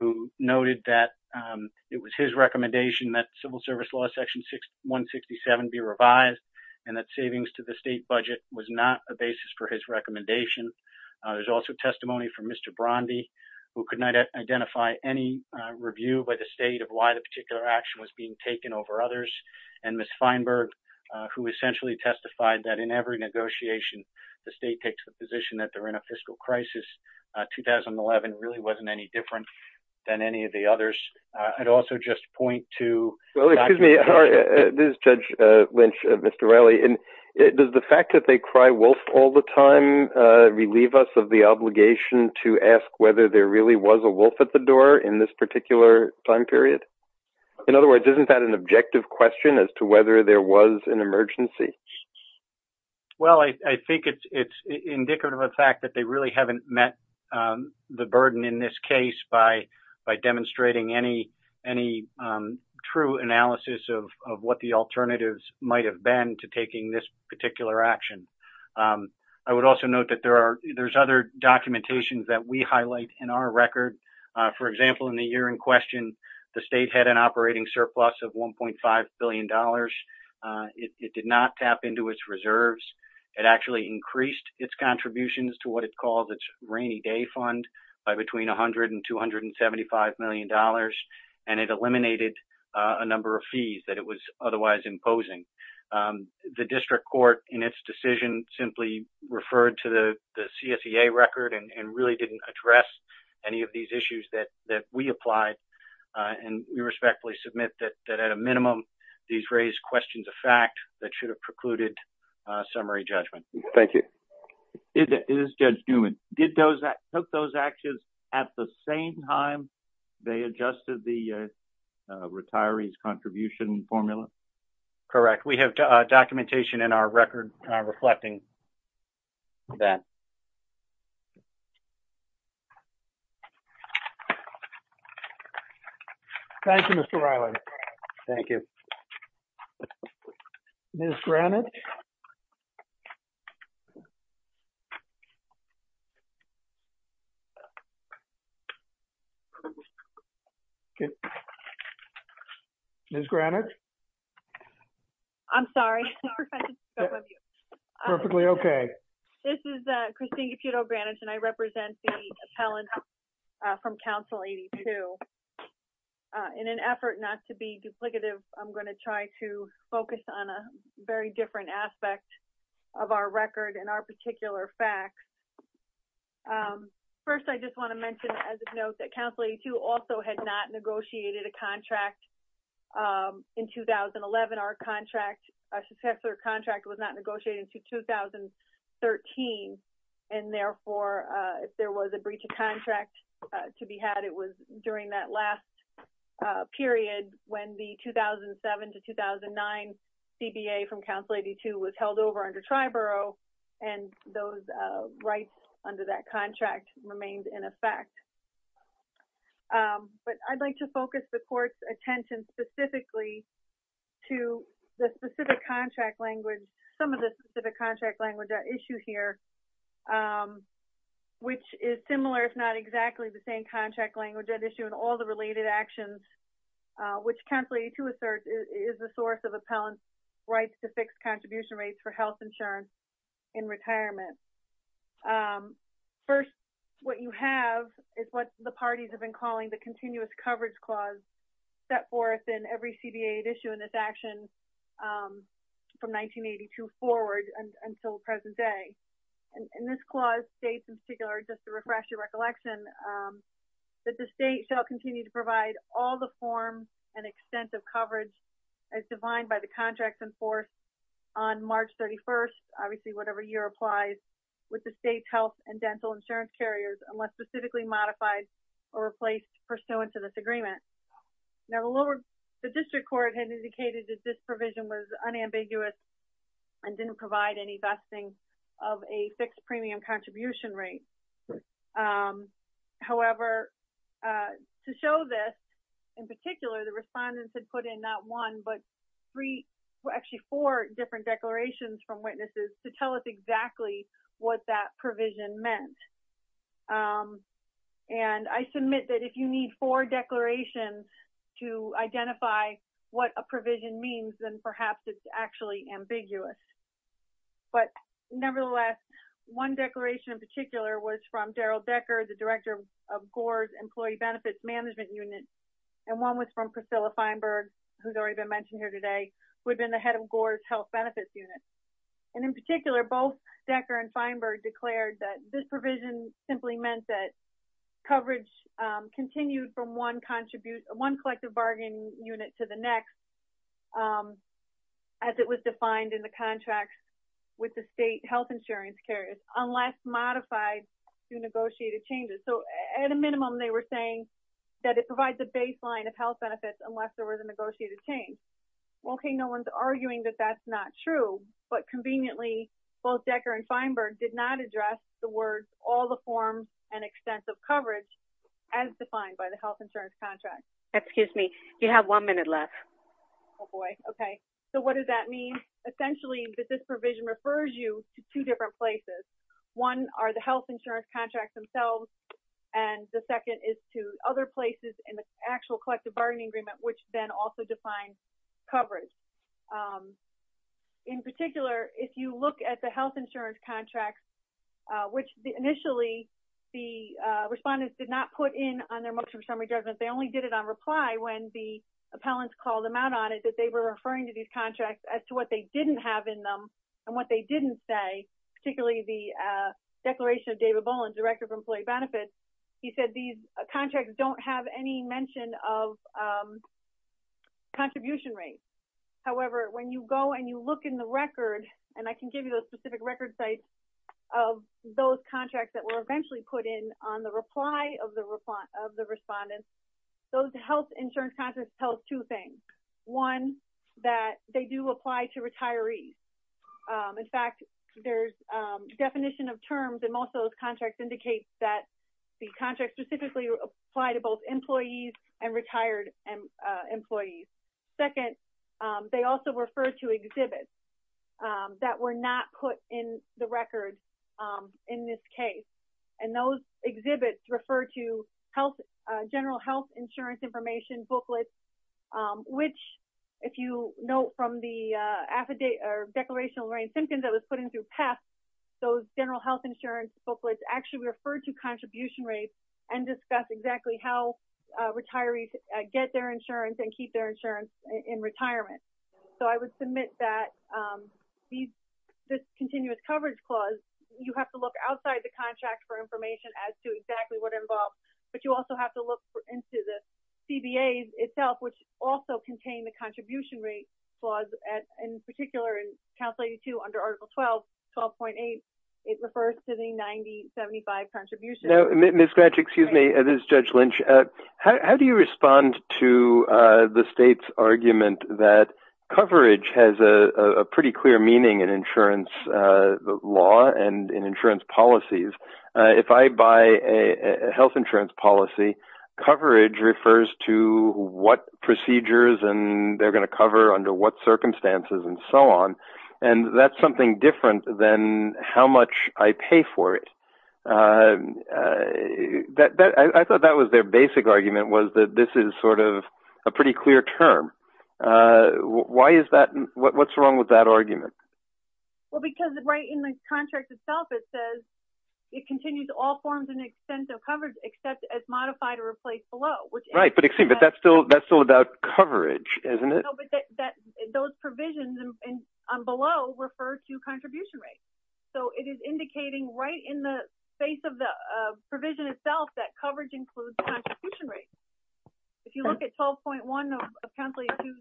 who noted that it was his recommendation that civil service law section 167 be revised, and that savings to the state budget was not a basis for his recommendation. There's also testimony from Mr. Bromby, who could not identify any review by the state of why the action was being taken over others, and Ms. Feinberg, who essentially testified that in every negotiation, the state takes the position that they're in a fiscal crisis. 2011 really wasn't any different than any of the others. I'd also just point to- This is Judge Lynch, Mr. Riley. Does the fact that they cry wolf all the time relieve us of the obligation to ask whether there really was a wolf at the door in this time period? In other words, isn't that an objective question as to whether there was an emergency? Well, I think it's indicative of the fact that they really haven't met the burden in this case by demonstrating any true analysis of what the alternatives might have been to taking this particular action. I would also note that there's other questions. The state had an operating surplus of $1.5 billion. It did not tap into its reserves. It actually increased its contributions to what it called its rainy day fund by between $100 and $275 million, and it eliminated a number of fees that it was otherwise imposing. The district court, in its decision, simply referred to the CSEA record and really didn't address any of these issues that we applied, and we respectfully submit that at a minimum, these raised questions of fact that should have precluded summary judgment. Thank you. This is Judge Newman. Did those- took those actions at the same time they adjusted the retiree's contribution formula? Correct. We have documentation in our record reflecting that. Thank you, Mr. Riley. Thank you. Ms. Granich? Ms. Granich? I'm sorry. No, we're fine. Perfectly okay. This is Christina Pietro Granich, and I represent the appellant from Council 82. In an effort not to be duplicative, I'm going to try to focus on a very different aspect of our record and our particular facts. First, I just want to mention as a note that Council 82 also had not negotiated a contract in 2011. Our contract, our successor contract, was not negotiating until 2013, and therefore, if there was a breach of contract to be had, it was during that last period when the 2007 to 2009 CBA from Council 82 was held over under Triborough, and those rights under that contract remained in effect. But I'd like to focus the Court's attention specifically to the specific contract language, some of the specific contract language at issue here, which is similar if not exactly the same contract language at issue in all the related actions, which Council 82 asserts is the source of appellant's rights to fix contribution rates for health insurance in retirement. First, what you have is what the parties have been calling the Continuous Coverage Clause set forth in every CBA at issue in this action from 1982 forward and until present day. And this clause states in particular, just to refresh your recollection, that the state shall continue to provide all the forms and extensive coverage as defined by the contracts in force on March 31st, obviously, whatever year applies, with the state's health and dental insurance carriers unless specifically modified or replaced pursuant to this agreement. Now, the lower, the District Court had indicated that this provision was unambiguous and didn't provide any vesting of a fixed premium contribution rate. However, to show this, in particular, the respondents had put in not one, but three, actually four different declarations from witnesses to tell us exactly what that provision meant. And I submit that if you need four declarations to identify what a provision means, then perhaps it's actually ambiguous. But nevertheless, one declaration in particular was from Daryl Decker, the Director of Gore's Employee Benefits Management Unit. And one was from Priscilla Feinberg, who's already been mentioned here today, who had been the head of Gore's Health Benefits Unit. And in particular, both Decker and Feinberg declared that this provision simply meant that continued from one collective bargaining unit to the next, as it was defined in the contracts with the state health insurance carriers, unless modified through negotiated changes. So, at a minimum, they were saying that it provides a baseline of health benefits, unless there was a negotiated change. Okay, no one's arguing that that's not true. But conveniently, both Decker and Feinberg did not address the words, all the forms and extensive coverage as defined by the health insurance contract. Excuse me, you have one minute left. Oh, boy. Okay. So, what does that mean? Essentially, this provision refers you to two different places. One are the health insurance contracts themselves. And the second is to other places in the actual collective bargaining agreement, which then also define coverage. In particular, if you look at the health insurance contracts, which initially, the respondents did not put in on their motion of summary judgment, they only did it on reply when the appellants called them out on it, that they were referring to these contracts as to what they didn't have in them. And what they didn't say, particularly the declaration of David Boland, Director of Employee Benefits, he said these contracts don't have any mention of contribution rates. However, when you go and look in the record, and I can give you a specific record site of those contracts that were eventually put in on the reply of the respondent, those health insurance contracts tell two things. One, that they do apply to retirees. In fact, there's a definition of terms and most of those contracts indicate that the contract specifically apply to both employees and retired employees. Second, they also refer to exhibits that were not put in the record in this case. And those exhibits refer to health, general health insurance information booklets, which if you know from the affidavit or declarational brain symptoms that was put into pass, those general health insurance booklets actually refer to contribution rates and discuss exactly how retirees get their insurance and keep their insurance in retirement. So I would submit that this continuous coverage clause, you have to look outside the contract for information as to exactly what it involves. But you also have to look into the CBAs itself, which also contain the contribution rate clause. In particular, in Council 82 under Article 12, 12.8, it refers to the 90-75 contribution. How do you respond to the state's argument that coverage has a pretty clear meaning in insurance law and in insurance policies? If I buy a health insurance policy, coverage refers to what procedures and they're going to cover under what circumstances and so on. And that's something different than how much I pay for it. I thought that was their basic argument was that this is sort of a pretty clear term. Why is that? What's wrong with that argument? Well, because right in the contract itself, it says it continues all forms and extensive coverage except as modified or replaced below. Right, but that's still about coverage, isn't it? No, but those provisions below refer to contribution rates. So, it is indicating right in the face of the provision itself that coverage includes the contribution rate. If you look at 12.1 of Council 82,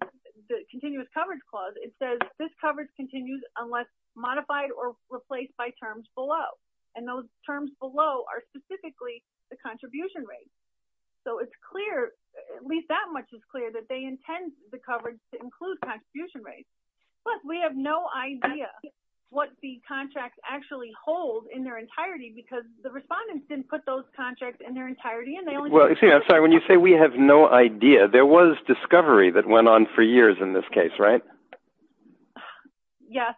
the continuous coverage clause, it says this coverage continues unless modified or replaced by terms below. And those terms below are specifically the contribution rate. So, it's clear, at least that much is clear, that they intend the coverage to include contribution rates. Plus, we have no idea what the contracts actually hold in their entirety because the respondents didn't put those contracts in their entirety. Well, I'm sorry, when you say we have no idea, there was discovery that went on for years in this case, right? Yes.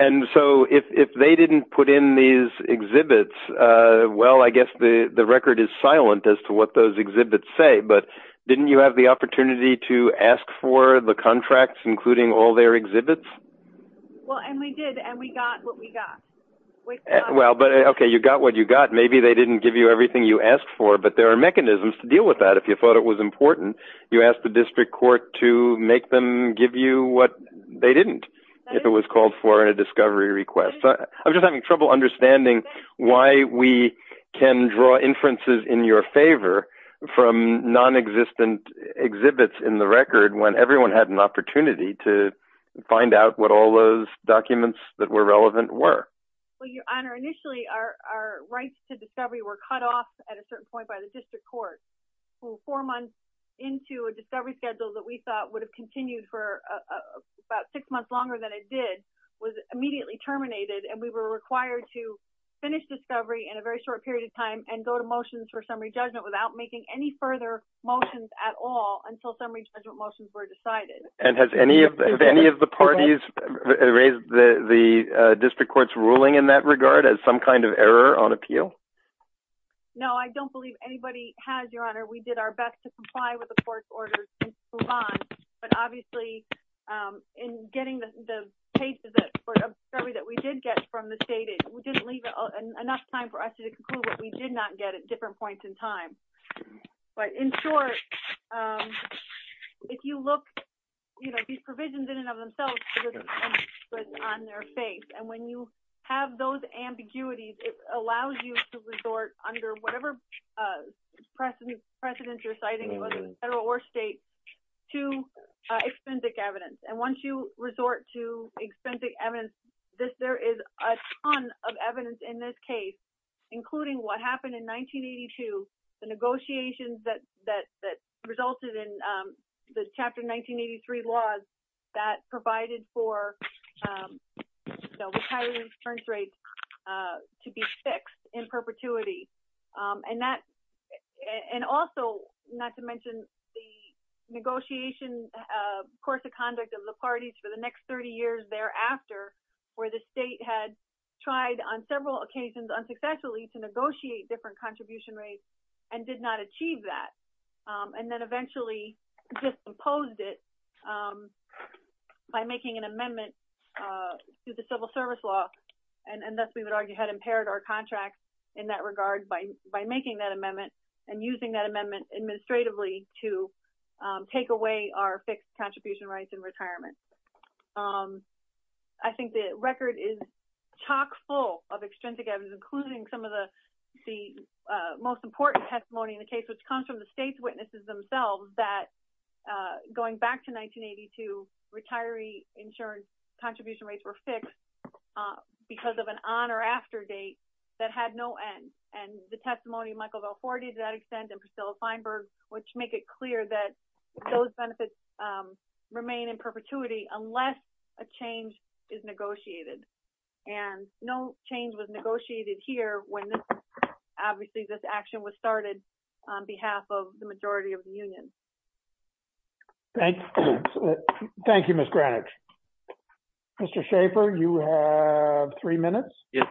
And so, if they didn't put in exhibits, well, I guess the record is silent as to what those exhibits say, but didn't you have the opportunity to ask for the contracts, including all their exhibits? Well, and we did, and we got what we got. Well, but okay, you got what you got. Maybe they didn't give you everything you asked for, but there are mechanisms to deal with that. If you thought it was important, you asked the district court to make them give you what they didn't. It was called for a discovery request. I'm just having trouble understanding why we can draw inferences in your favor from non-existent exhibits in the record when everyone had an opportunity to find out what all those documents that were relevant were. Well, your honor, initially, our rights to discovery were cut off at a certain point by the district court. Four months into a discovery schedule that we thought would have continued for about six months longer than it did was immediately terminated, and we were required to finish discovery in a very short period of time and go to motions for summary judgment without making any further motions at all until summary judgment motions were decided. And has any of the parties raised the district court's ruling in that regard as some kind of error on appeal? No, I don't believe anybody has, your honor. We did our discovery that we did get from the state. We didn't leave enough time for us to conclude what we did not get at different points in time. But in short, if you look, you know, these provisions in and of themselves, but on their face, and when you have those ambiguities, it allows you to resort under whatever precedents you're citing, federal or state, to extensive evidence. And once you resort to extensive evidence, there is a ton of evidence in this case, including what happened in 1982, the negotiations that resulted in the Chapter 1983 laws that provided for retirees' returns rates to be fixed in perpetuity. And also, not to mention the negotiation course of conduct of the parties for the next 30 years thereafter, where the state had tried on several occasions unsuccessfully to negotiate different contribution rates and did not achieve that, and then eventually just imposed it by making an amendment to the civil service law, and thus we would argue had impaired our contract in that regard by making that amendment and using that amendment administratively to take away our fixed contribution rates in retirement. I think the record is chock full of extensive evidence, including some of the most important testimony in the case, which comes from the state's witnesses themselves, that going back to 1982, retiree insurance contribution rates were fixed because of an on or after date that had no end. And the testimony of Michael Vellforti, to that extent, and Priscilla Feinberg, which make it clear that those benefits remain in perpetuity unless a change is negotiated. And no change was negotiated here when, obviously, this action was started on behalf of the majority of the union. Thank you. Thank you, Ms. Greenwich. Mr. Schaefer, you have three minutes. Yes.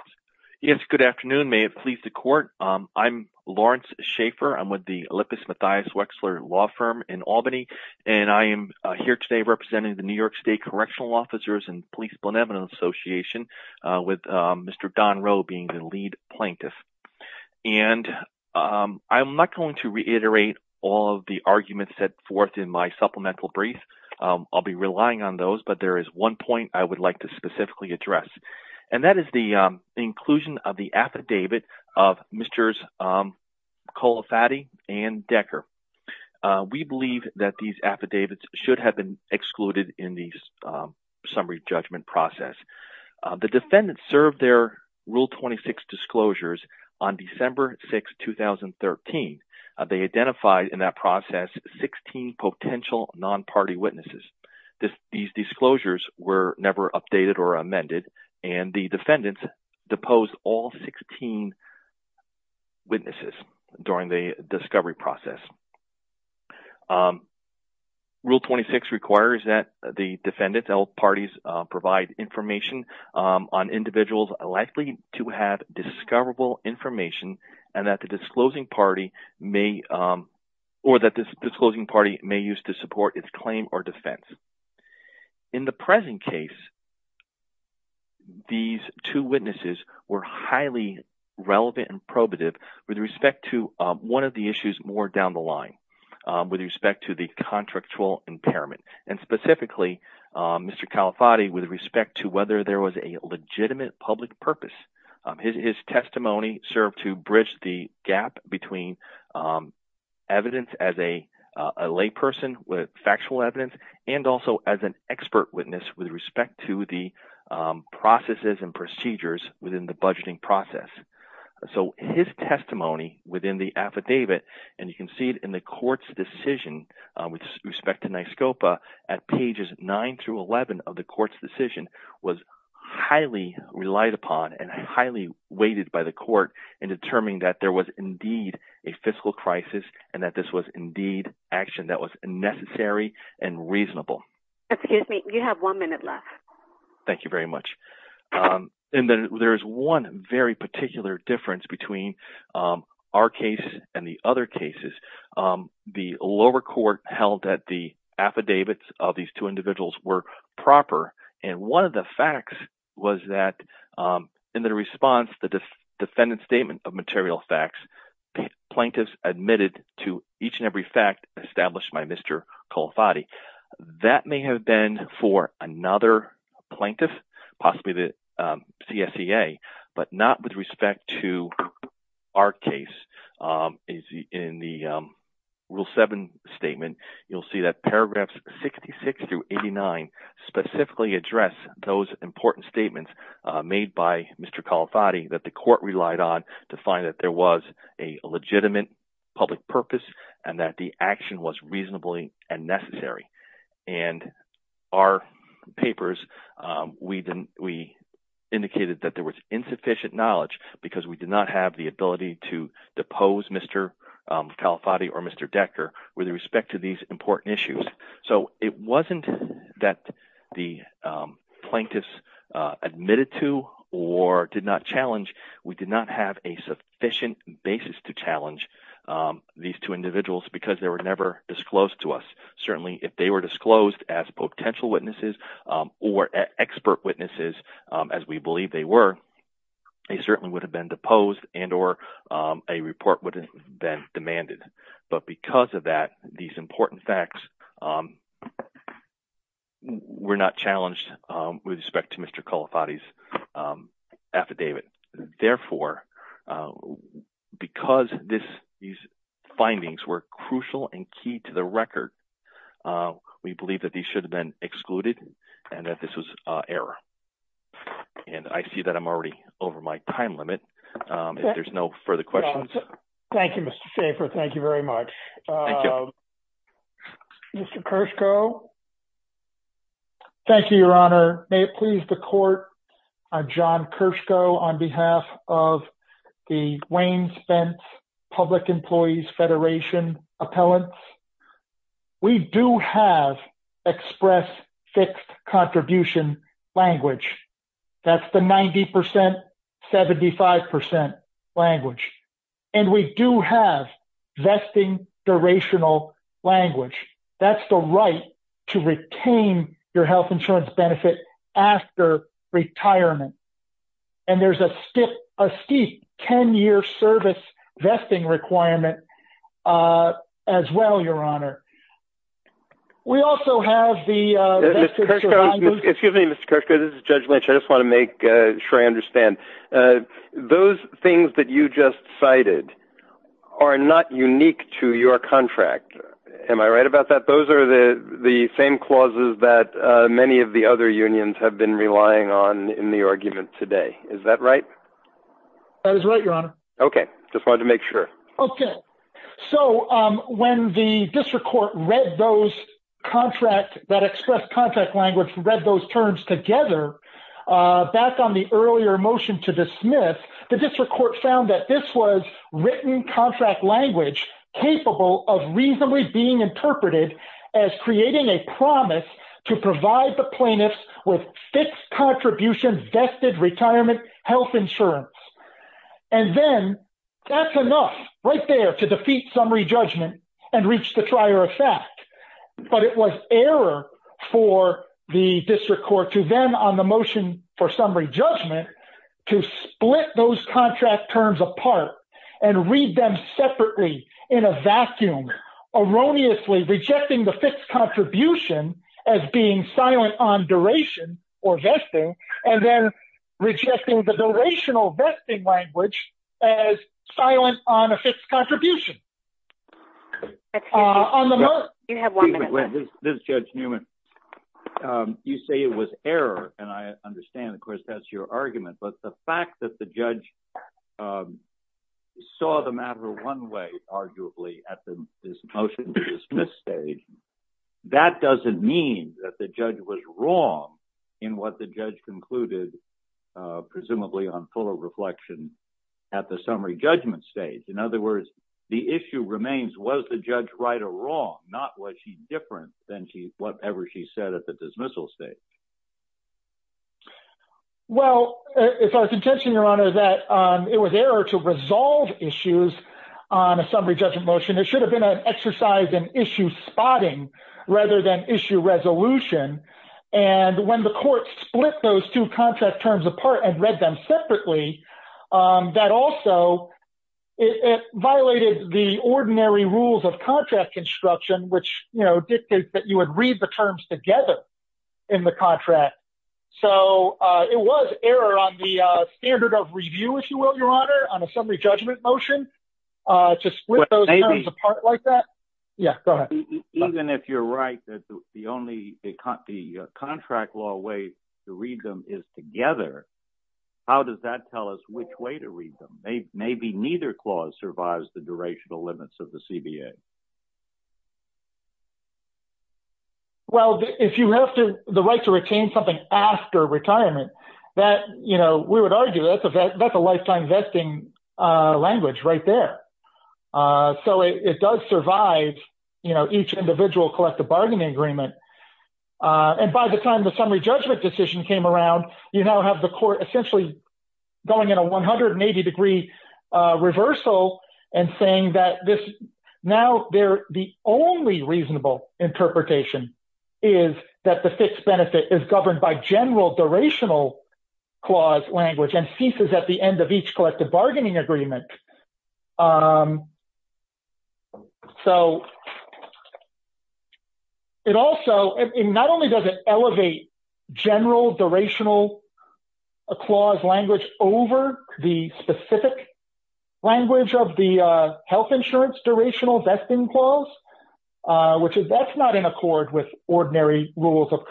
Good afternoon. May it please the court. I'm Lawrence Schaefer. I'm with the Olympus Matthias Wexler Law Firm in Albany, and I am here today representing the New York State Correctional Officers and Police Benevolent Association with Mr. Don Rowe being the lead plaintiff. And I'm not going to reiterate all of the arguments set forth in my supplemental brief. I'll be relying on those, but there is one point I would like to specifically address, and that is the inclusion of the affidavit of Mr. Colafatti and Decker. We believe that these affidavits should have been excluded in the summary judgment process. The defendants served their Rule 26 disclosures on December 6, 2013. They identified in that process 16 potential non-party witnesses. These disclosures were never updated or amended, and the defendants deposed all 16 witnesses during the discovery process. Rule 26 requires that the defendants parties provide information on individuals likely to have discoverable information, and that the disclosing party may use to support its claim or defense. In the present case, these two witnesses were highly relevant and probative with respect to one of the issues more down the line, with respect to the contractual impairment, and specifically Mr. Colafatti with respect to whether there was a legitimate public purpose. His testimony served to bridge the gap between evidence as a layperson with factual evidence, and also as an expert witness with respect to the processes and procedures within the budgeting process. So his testimony within the affidavit, and you can see it in the court's decision with respect to NYSCOPA at pages 9 through 11 of the court's decision, was highly relied upon and highly weighted by the court in determining that there was indeed a fiscal crisis and that this was indeed action that was necessary and reasonable. Excuse me, you have one minute left. Thank you very much. There's one very particular difference between our case and the other cases. The lower court held that the affidavits of these two individuals were proper, and one of the facts was that in the response, the defendant's statement of material facts, plaintiffs admitted to each and every fact established by Mr. Colafatti. That may have for another plaintiff, possibly the CSEA, but not with respect to our case. In the Rule 7 statement, you'll see that paragraphs 66 through 89 specifically address those important statements made by Mr. Colafatti that the court relied on to find that there was a legitimate public purpose and that the action was reasonably and necessary. In our papers, we indicated that there was insufficient knowledge because we did not have the ability to depose Mr. Colafatti or Mr. Decker with respect to these important issues. It wasn't that the these two individuals, because they were never disclosed to us, certainly if they were disclosed as potential witnesses or expert witnesses, as we believe they were, they certainly would have been deposed and or a report would have been demanded. But because of that, these important facts were not challenged with respect to Mr. Colafatti's affidavit. Therefore, uh, because this, these findings were crucial and key to the record, uh, we believe that these should have been excluded and that this was an error. And I see that I'm already over my time limit. Um, if there's no further questions. Thank you, Mr. Schaffer. Thank you very much. Mr. Kershko. Thank you, Your Honor. May it please the court. I'm John Kershko on behalf of the Wayne-Spence Public Employees Federation appellants. We do have express fixed contribution language. That's the 90%, 75% language. And we do have vesting durational language. That's the right to retain your health insurance benefit after retirement. And there's a skip, a steep 10 year service vesting requirement, uh, as well, Your Honor. We also have the, uh, excuse me, Mr. Kershko. This is judge Lynch. I just want to make sure I understand, uh, those things that you just cited are not unique to your contract. Am I right about that? Those are the same clauses that, uh, many of the other unions have been relying on in the argument today. Is that right? That is right, Your Honor. Okay. Just wanted to make sure. Okay. So, um, when the district court read those contract that express contract language, read those terms together, uh, back on earlier motion to dismiss, the district court found that this was written contract language capable of reasonably being interpreted as creating a promise to provide the plaintiffs with fixed contribution vested retirement health insurance. And then that's enough right there to defeat summary judgment and reach the prior effect. But it was error for the district court to then on motion for summary judgment to split those contract terms apart and read them separately in a vacuum, erroneously rejecting the fixed contribution as being silent on duration or vesting, and then rejecting the durational vesting language as silent on a fixed contribution. Okay. Uh, on the note, you have one minute. This is Judge Newman. Um, you say it was error, and I understand, of course, that's your argument. But the fact that the judge, um, saw the matter one way, arguably, at the, this motion to dismiss stage, that doesn't mean that the judge was wrong in what the judge concluded, uh, presumably on reflection at the summary judgment stage. In other words, the issue remains, was the judge right or wrong? Not what she's different than she, whatever she said at the dismissal stage. Well, it's our contention, Your Honor, that, um, it was error to resolve issues on a summary judgment motion. It should have been an exercise in issue spotting rather than issue resolution. And when the court split those two contract terms apart and read them separately, um, that also, it violated the ordinary rules of contract construction, which, you know, dictates that you would read the terms together in the contract. So, uh, it was error on the, uh, standard of review, if you will, Your Honor, on a summary judgment motion, uh, to split those terms apart like that. Yeah, go ahead. Even if you're right, that's the only, the contract law way to read them is together. How does that tell us which way to read them? Maybe neither clause survives the durational limits of the CBA. Well, if you have to, the right to retain something after retirement that, you know, we would argue that that's a lifetime vesting, uh, language right there. Uh, so it does survive, you know, each individual collective bargaining agreement. Uh, and by the time the summary judgment decision came around, you now have the court essentially going in a 180 degree, uh, reversal and saying that this now they're the only reasonable interpretation is that the fixed benefit is governed by general durational clause language at the end of each collective bargaining agreement. Um, so it also, and not only does it elevate general durational clause language over the specific language of the, uh, health insurance durational vesting clause, uh, which is that's not in accord with ordinary rules of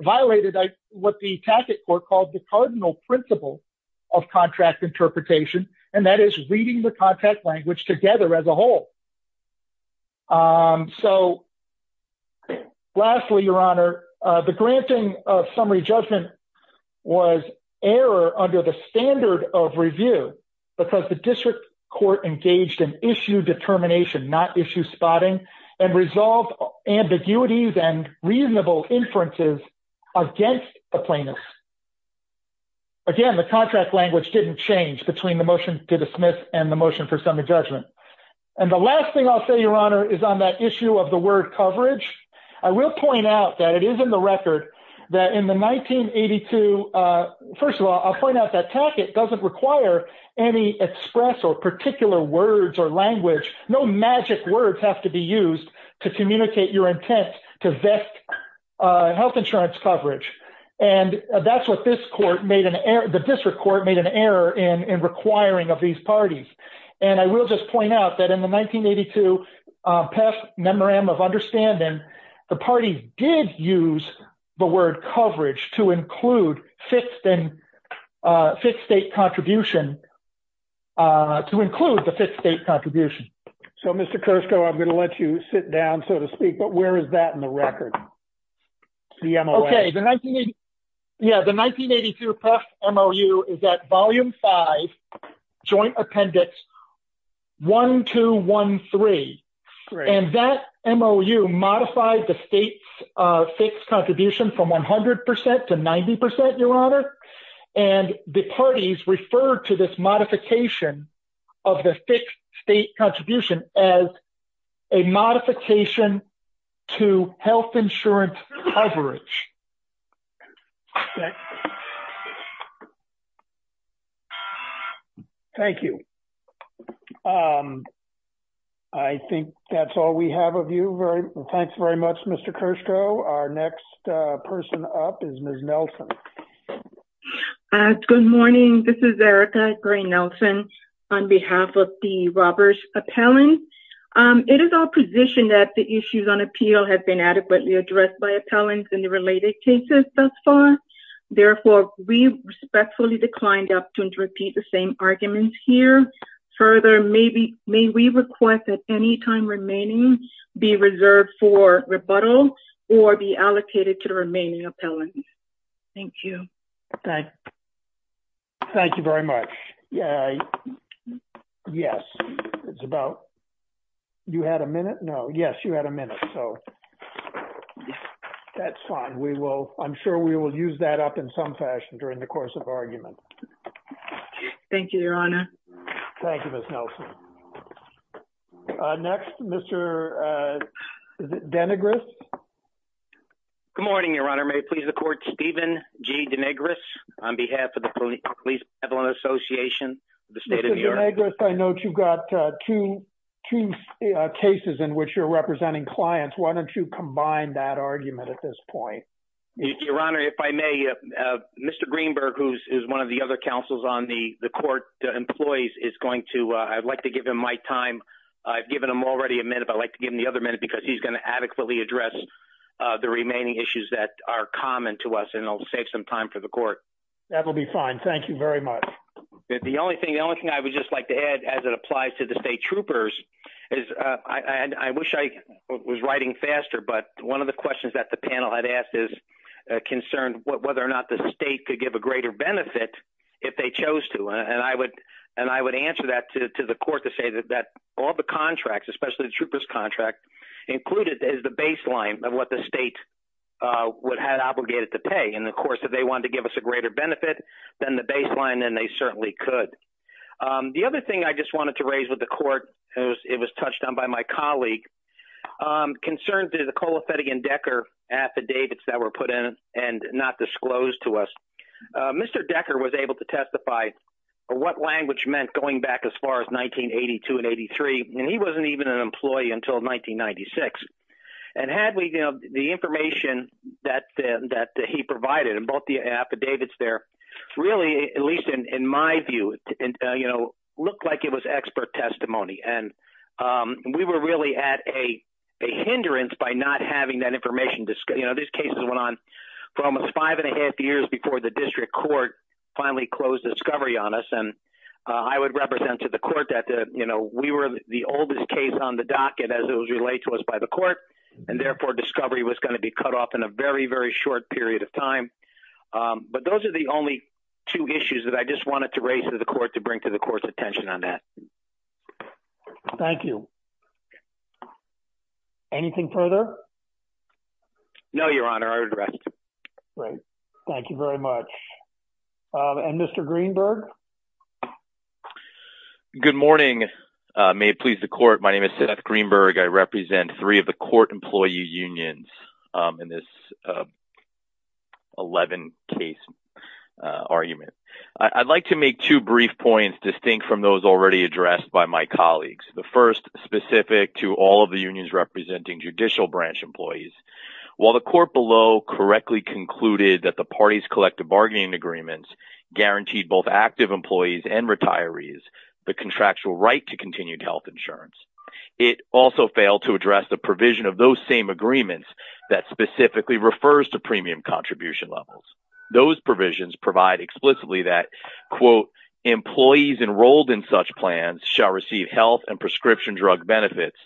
violated what the tacit court called the cardinal principle of contract interpretation. And that is reading the contract language together as a whole. Um, so lastly, your honor, uh, the granting of summary judgment was error under the standard of review because the district court engaged in issue determination, not issue spotting and resolve ambiguities and reasonable inferences against the plaintiff. Again, the contract language didn't change between the motion to dismiss and the motion for summary judgment. And the last thing I'll say your honor is on that issue of the word coverage. I will point out that it is in the record that in the 1982, uh, first of all, I'll point out that it doesn't require any express or particular words or language. No magic words have to be used to communicate your intent to vet, uh, health insurance coverage. And that's what this court made an error. The district court made an error in requiring of these parties. And I will just point out that in the 1982, uh, past memorandum of understanding, the party did use the word coverage to include fifth and, uh, fifth state contribution, uh, to include the fifth state contribution. So Mr. Kursko, I'm going to let you sit down, so to speak, but where is that in the record? Okay. The 19, yeah, the 1982 past MOU is that volume five joint appendix one, two, one, three, and that MOU modified the state, uh, six contribution from 100% to 90%, your honor. And the parties refer to this modification of the state contribution as a modification to health insurance coverage. Okay. Thank you. Um, I think that's all we have of you. Very well. Thanks very much, Mr. Kursko. Our next, uh, person up is Ms. Nelson. Uh, good morning. This is Erica Gray Nelson on behalf of the robbers appellant. Um, it is our position that the issues on appeal have been addressed by appellants in the related cases thus far. Therefore, we respectfully declined to repeat the same arguments here. Further, maybe, may we request that any time remaining be reserved for rebuttal or be allocated to the remaining appellants. Thank you. Okay. Thank you very much. Yeah. Yes. It's about you had a minute. No. Yes. You had a minute. So that's fine. We will, I'm sure we will use that up in some fashion during the course of argument. Thank you, your honor. Thank you, Ms. Nelson. Uh, next Mr. Uh, Denigris. Good morning, your honor. May it please the court, Steven G. Denigris on behalf of the police appellant association, the state of New York. I know that you've got, uh, two, two cases in which you're representing clients. Why don't you combine that argument at this point? Your honor, if I may, uh, Mr. Greenberg, who's is one of the other councils on the court. The employees is going to, uh, I'd like to give him my time. I've given him already a minute, but I'd like to give him the other minute because he's going to adequately address, uh, the remaining issues that are common to us and it'll save some time for the court. That will be fine. Thank you very much. The only thing, the only thing I would just like to add as it applies to the state troopers is, uh, I, I wish I was writing faster, but one of the questions that the panel had asked is concerned whether or not the state could give a greater benefit if they chose to. And I would, and I would answer that to, to the court to say that, that all the contracts, especially the troopers contract included is the baseline of what the state, uh, would have obligated to pay. And of course, if they wanted to give us a greater benefit than the baseline, then they certainly could. Um, the other thing I just wanted to raise with the court, it was, it was touched on by my colleague, um, concerned to the Cole Ophedic and Decker affidavits that were put in and not disclosed to us. Uh, Mr. Decker was able to testify or what language meant going back as far as 1982 and 83. And he wasn't even an employee until 1996. And had we, you know, the information that, uh, that he provided and bought the affidavits there really, at least in, in my view, you know, looked like it was expert testimony. And, um, we were really at a hindrance by not having that information. You know, these cases went on for almost five and a half years before the district court finally closed discovery on us. And, uh, I would represent to the court that, uh, you know, we were the oldest case on the docket as it was relayed to us by the court and therefore discovery was going to be cut off in a very, very short period of time. Um, but those are the only two issues that I just wanted to raise to the court to bring to the court's attention on that. Thank you. Anything further? No, your honor. Great. Thank you very much. Um, and Mr. Greenberg. Good morning. Uh, may it please the court. My name is Seth Greenberg. I represent three of the court employee unions. Um, and this, uh, 11 case, uh, argument. I'd like to make two brief points distinct from those already addressed by my colleagues. The first specific to all of the unions representing judicial branch employees, while the court below correctly concluded that the parties collective bargaining agreements guaranteed both active employees and retirees, the contractual right to continued health insurance. It also failed to address the provision of those same agreements that specifically refers to premium contribution levels. Those provisions provide explicitly that quote employees enrolled in such plans shall receive health and prescription drug benefits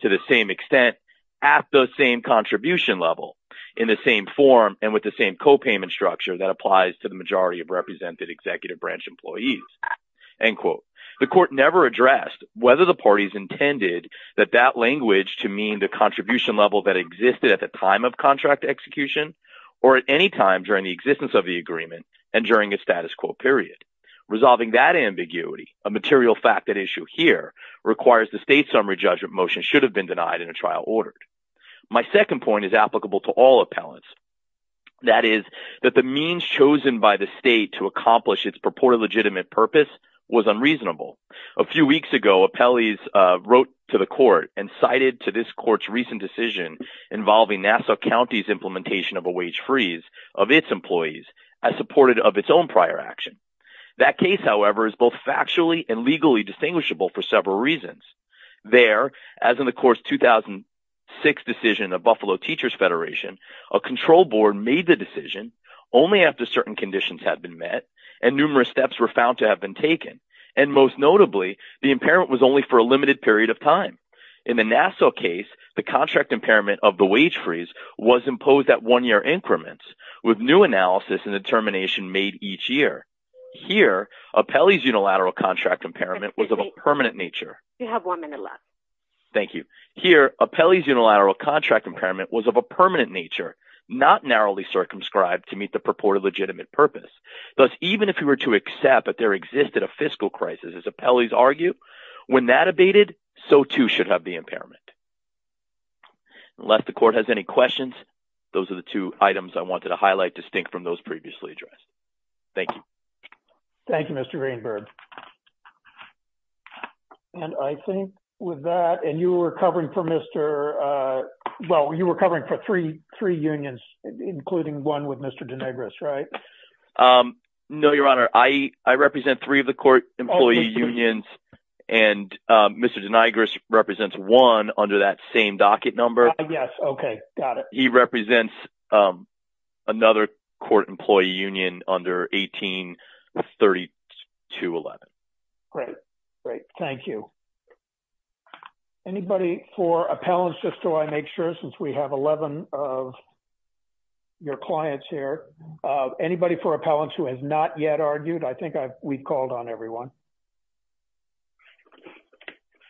to the same extent at the same contribution level in the same form and with the same copayment structure that applies to the majority of represented executive branch employees. End quote. The court never addressed whether the parties intended that that language to mean the contribution level that existed at the time of or at any time during the existence of the agreement and during a status quo period. Resolving that ambiguity, a material fact that issue here requires the state summary judgment motion should have been denied in a trial ordered. My second point is applicable to all appellants. That is that the means chosen by the state to accomplish its purported legitimate purpose was unreasonable. A few weeks ago, appellees wrote to the court and cited to this court's decision involving Nassau County's implementation of a wage freeze of its employees as supported of its own prior action. That case, however, is both factually and legally distinguishable for several reasons. There, as in the course 2006 decision of Buffalo Teachers Federation, a control board made the decision only after certain conditions had been met and numerous steps were found to have been taken and most notably, the impairment was only for a limited period of time. In the Nassau case, the contract impairment of the wage freeze was imposed at one-year increments with new analysis and determination made each year. Here, appellee's unilateral contract impairment was of a permanent nature. You have one minute left. Thank you. Here, appellee's unilateral contract impairment was of a permanent nature, not narrowly circumscribed to meet the purported legitimate purpose. Thus, even if you were to accept that there existed a fiscal crisis, as appellees argue, when that abated, so too should have the impairment. Unless the court has any questions, those are the two items I wanted to highlight distinct from those previously addressed. Thank you. Thank you, Mr. Greenberg. And I think with that, and you were covering for Mr., well, you were covering for three unions, including one with Mr. Denegris, right? No, Your Honor. I represent three of the court employee unions, and Mr. Denegris represents one under that same docket number. Yes. Okay. Got it. He represents another court employee union under 183211. Great. Great. Thank you. Anybody for appellants, just so I make sure, since we have 11 of your clients here, anybody for appellants who has not yet argued? I think we called on everyone.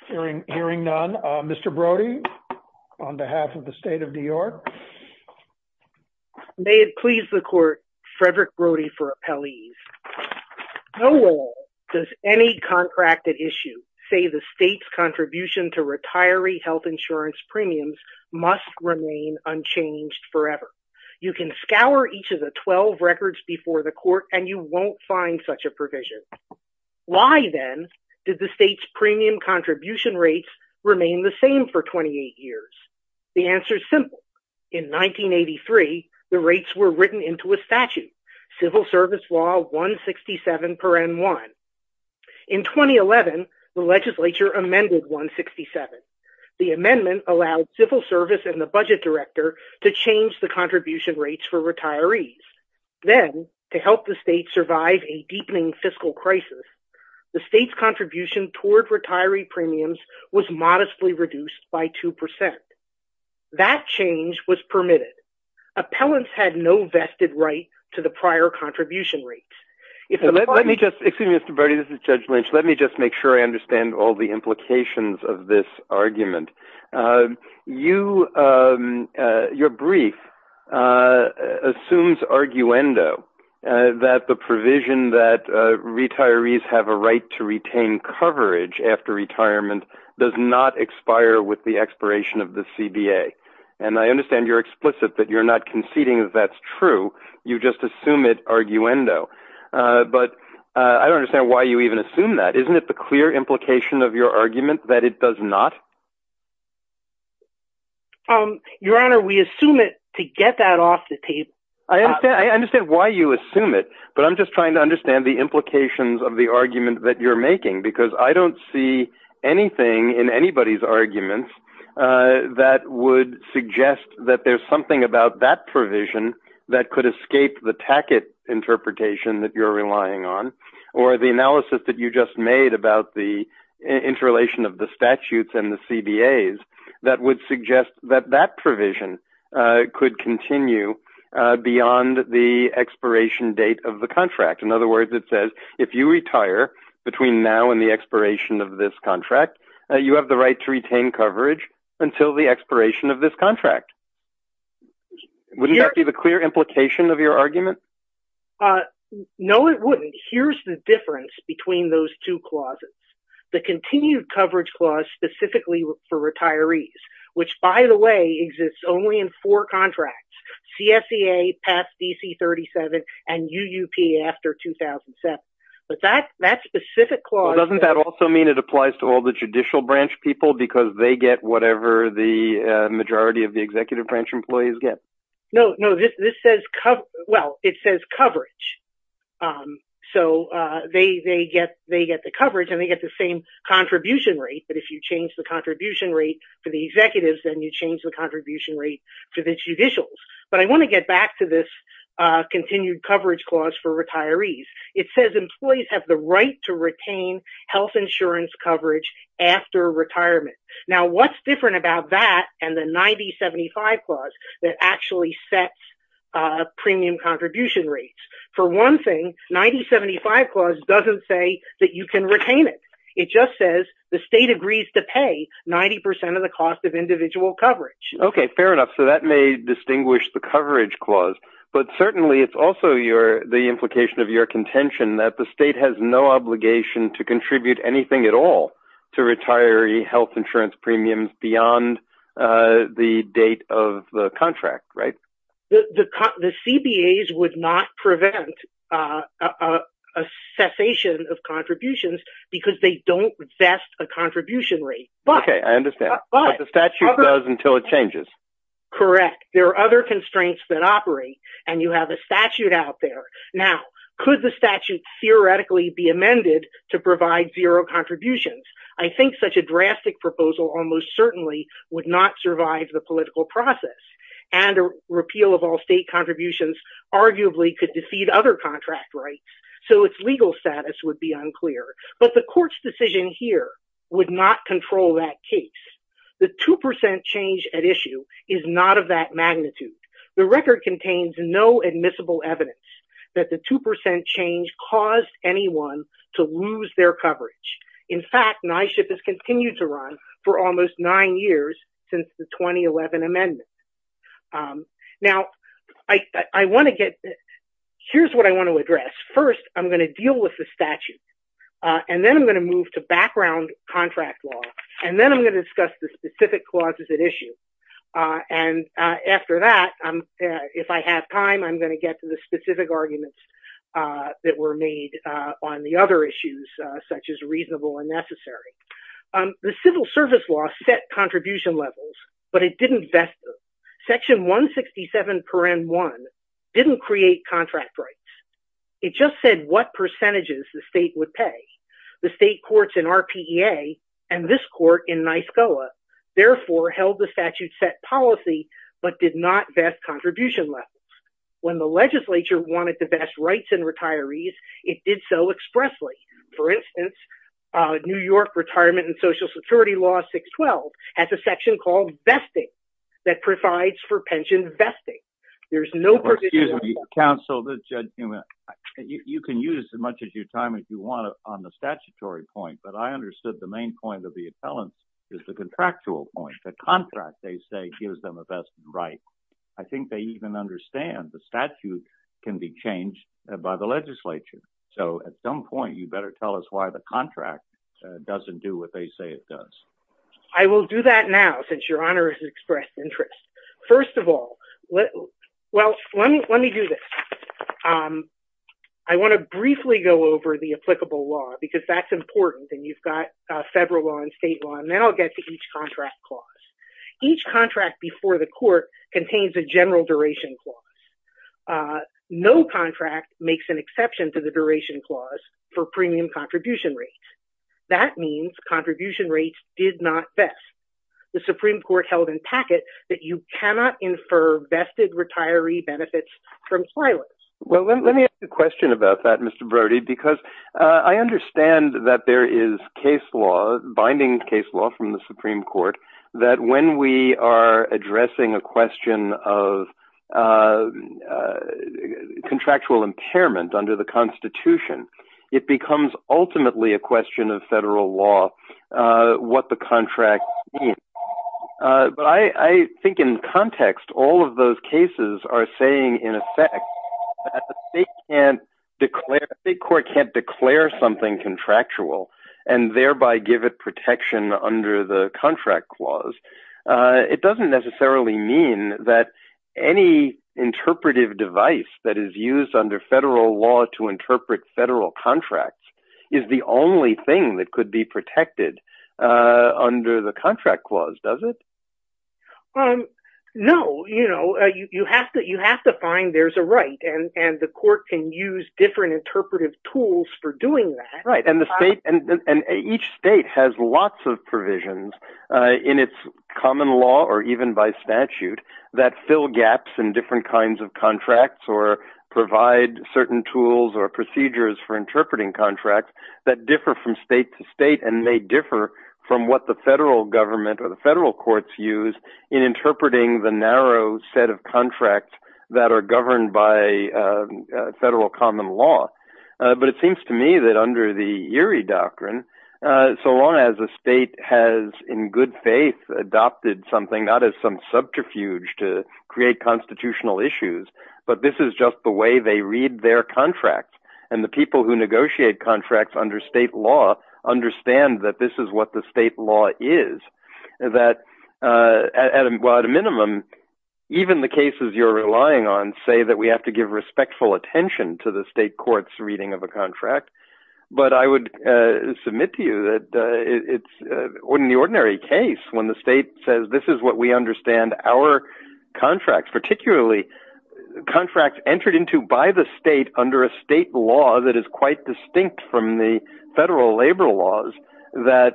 Hearing none, Mr. Brody, on behalf of the state of New York. May it please the court, Frederick Brody for appellees. No law does any contracted issue say the state's contribution to retiree health insurance premiums must remain unchanged forever. You can scour each of the 12 records before the court, and you won't find such a provision. Why, then, did the state's premium contribution rates remain the same for 28 years? The answer's simple. In 1983, the rates were written into a statute, civil service law 167.1. In 2011, the legislature amended 167. The amendment allowed civil service and the budget director to change the contribution rates for retirees. Then, to help the state survive a deepening fiscal crisis, the state's contribution toward retiree premiums was modestly reduced by 2%. That change was permitted. Appellants had no vested right to the prior contribution rates. Excuse me, Mr. Brody. This is Judge Lynch. Let me just make sure I understand all the brief. Your brief assumes arguendo that the provision that retirees have a right to retain coverage after retirement does not expire with the expiration of the CBA. I understand you're explicit that you're not conceding that that's true. You just assume it arguendo. I don't understand why you even assume that. Isn't it the clear implication of your argument that it does not? Your Honor, we assume it to get that off the table. I understand why you assume it, but I'm just trying to understand the implications of the argument that you're making, because I don't see anything in anybody's argument that would suggest that there's something about that provision that could escape the Tackett interpretation that you're relying on, or the analysis that you just made about the interrelation of the statutes and the CBAs, that would suggest that that provision could continue beyond the expiration date of the contract. In other words, it says if you retire between now and the expiration of this contract, you have the right to retain coverage until the expiration of this contract. Wouldn't that be the clear implication of your argument? No, it wouldn't. Here's the difference between those two clauses. The continued coverage clause specifically for retirees, which by the way, exists only in four contracts, CSEA past DC-37 and UUP after 2007. But that specific clause... Doesn't that also mean it applies to all the employees? No, it says coverage. So they get the coverage and they get the same contribution rate, but if you change the contribution rate for the executives, then you change the contribution rate to the judicials. But I want to get back to this continued coverage clause for retirees. It says employees have the right to retain health insurance coverage after retirement. Now, what's different about that and the 90-75 clause that actually sets premium contribution rates? For one thing, 90-75 clause doesn't say that you can retain it. It just says the state agrees to pay 90% of the cost of individual coverage. Okay, fair enough. So that may distinguish the coverage clause, but certainly it's also the implication of your contention that the state has no obligation to contribute anything at all to retiree health insurance premiums beyond the date of the contract, right? The CBAs would not prevent a cessation of contributions because they don't vest a contribution rate. Okay, I understand, but the statute does until it changes. Correct. There are other constraints that operate and you have a statute theoretically be amended to provide zero contributions. I think such a drastic proposal almost certainly would not survive the political process and a repeal of all state contributions arguably could defeat other contract rights, so its legal status would be unclear. But the court's decision here would not control that case. The 2% change at issue is not of that caused anyone to lose their coverage. In fact, NYSHIP has continued to run for almost nine years since the 2011 amendment. Now, I want to get, here's what I want to address. First, I'm going to deal with the statute and then I'm going to move to background contract law and then I'm going to discuss the specific clauses at issue. And after that, if I have time, I'm going to get to the on the other issues such as reasonable and necessary. The civil service law set contribution levels, but it didn't vest them. Section 167.1 didn't create contract rights. It just said what percentages the state would pay. The state courts in RPEA and this court in NYSCOA, therefore, held the statute set policy, but did not vest contribution levels. When the legislature wanted the best rights in retirees, it did so expressly. For instance, New York retirement and social security law 612 has a section called vesting that provides for pension vesting. There's no provision. Excuse me, counsel. You can use as much of your time as you want on the statutory point, but I understood the main point of the appellant is the contractual point. The contract, gives them a vested right. I think they even understand the statute can be changed by the legislature. So at some point, you better tell us why the contract doesn't do what they say it does. I will do that now since your honor has expressed interest. First of all, well, let me do this. I want to briefly go over the applicable law because that's important. And you've got federal law and state law. Now I'll get to each contract clause. Each contract before the court contains a general duration clause. No contract makes an exception to the duration clause for premium contribution rates. That means contribution rates did not vest. The Supreme Court held in packet that you cannot infer vested retiree benefits from filers. Well, let me ask you a case law binding case law from the Supreme Court that when we are addressing a question of contractual impairment under the constitution, it becomes ultimately a question of federal law, what the contract, but I think in context, all of those cases are saying in effect, they can't declare big court can't declare something contractual and thereby give it protection under the contract clause. It doesn't necessarily mean that any interpretive device that is used under federal law to interpret federal contracts is the only thing that could be protected under the contract clause, does it? No, you have to find there's a right and the court can use different interpretive tools for doing that. Each state has lots of provisions in its common law or even by statute that fill gaps in different kinds of contracts or provide certain tools or procedures for interpreting contracts that differ from state to state and they differ from what the federal government or the federal courts use in interpreting the narrow set of contracts that are governed by federal common law. But it seems to me that under the Erie Doctrine, so long as the state has in good faith adopted something out of some subterfuge to create constitutional issues, but this is just the way they read their contract and the people who negotiate contracts under state law understand that this is what the state law is. At a minimum, even the cases you're relying on say that we have to give respectful attention to the state court's reading of a contract, but I would submit to you that in the ordinary case, when the state says this is what we understand our contracts, particularly contracts entered into by the state under a state law that is quite distinct from the federal labor laws, that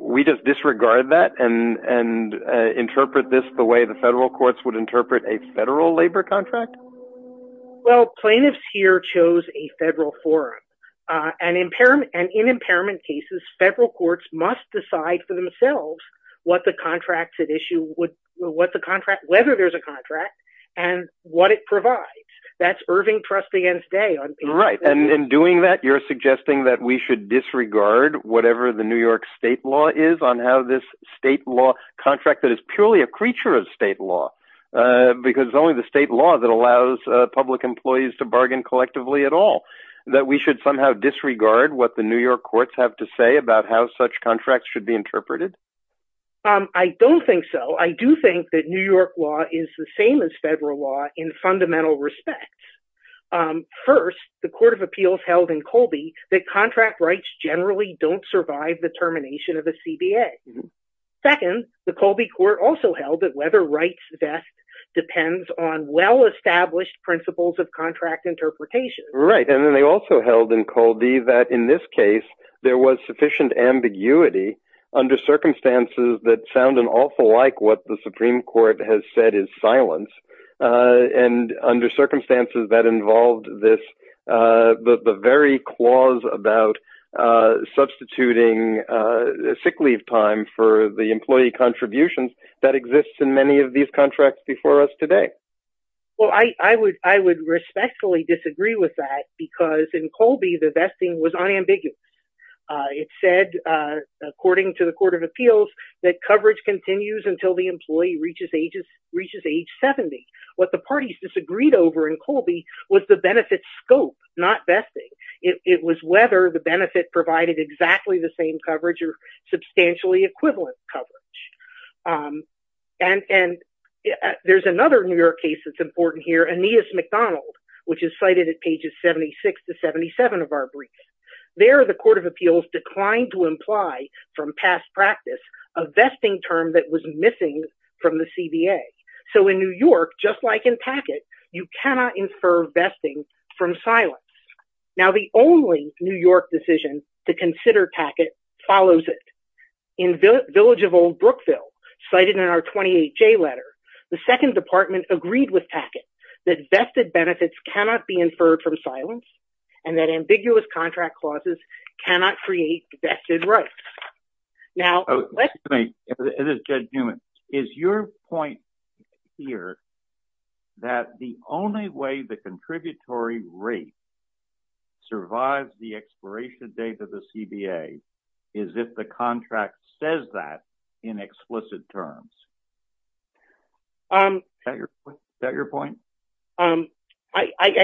we just disregard that and interpret this the way the federal courts would interpret a federal labor contract? Well, plaintiffs here chose a federal forum and in impairment cases, federal courts must decide for themselves whether there's a contract and what it provides. That's Irving Trust against Day. And in doing that, you're suggesting that we should disregard whatever the New York state law is on how this state law contract that is purely a creature of state law, because only the state law that allows public employees to bargain collectively at all, that we should somehow disregard what the New York courts have to say about how such contracts should be interpreted? I don't think so. I do think that New York law is the same as federal law in fundamental respects. First, the court of appeals held in Colby that contract rights generally don't survive the termination of a CBA. Second, the Colby court also held that whether rights best depends on well-established principles of contract interpretation. Right. And then they also held in Colby that in this case, there was sufficient ambiguity under circumstances that sound an awful like what the Supreme Court has said is silence. And under circumstances that involved this, the very clause about substituting sick leave time for the employee contributions that exists in many of these contracts before us today. Well, I would respectfully disagree with that, because in Colby, the vesting was unambiguous. It said, according to the court of appeals, that coverage continues until the employee reaches age 70. What the parties disagreed over in Colby was the benefit scope, not vesting. It was whether the benefit provided exactly the same coverage or substantially equivalent coverage. And there's another New York case that's important here, Aeneas McDonald, which is cited at pages 76 to 77 of our brief. There, the court of appeals declined to imply from past practice a vesting term that was missing from the CBA. So in New York, just like in Packett, you cannot infer vesting from silence. Now, the only New York decision to consider Packett follows it. In Village of Old Brookville, cited in our 28-J letter, the second department agreed with Packett that vested benefits cannot be inferred from silence and that ambiguous contract clauses cannot create vested rights. Now- Excuse me. It is Judge Newman. Is your point here that the only way the contributory rate survives the expiration date of the CBA is if the contract says that in explicit terms? Is that your point? I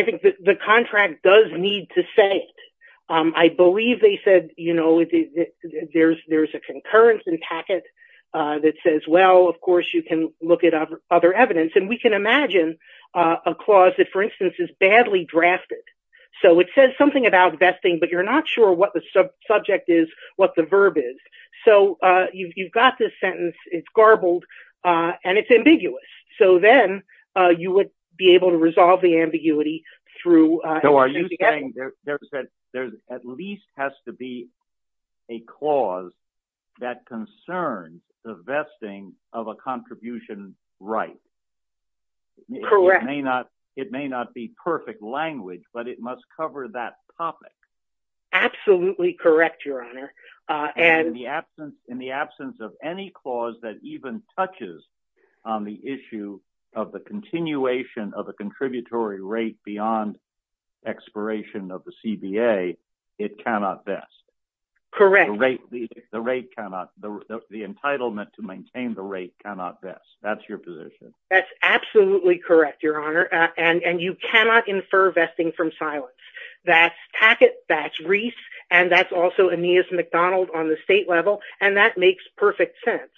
think the contract does need to say it. I believe they said, you know, there's a concurrence in Packett that says, well, of course, you can look at other evidence. And we can imagine a clause that, for instance, is badly drafted. So it says something about vesting, but you're not sure what the subject is, what the verb is. So you've got this sentence, it's garbled, and it's ambiguous. So then you would be able to resolve the ambiguity through- So are you saying there at least has to be a clause that concerns the vesting of a contribution right? Correct. It may not be perfect language, but it must cover that topic. Absolutely correct, Your Honor. And- In the absence of any clause that even touches on the issue of the continuation of a contributory rate beyond expiration of the CBA, it cannot vest. Correct. The rate cannot- The entitlement to maintain the rate cannot vest. That's your position. That's absolutely correct, Your Honor. And you cannot infer vesting from silence. That's Packett, that's Reese, and that's also Aeneas McDonald on the state level. And that makes perfect sense.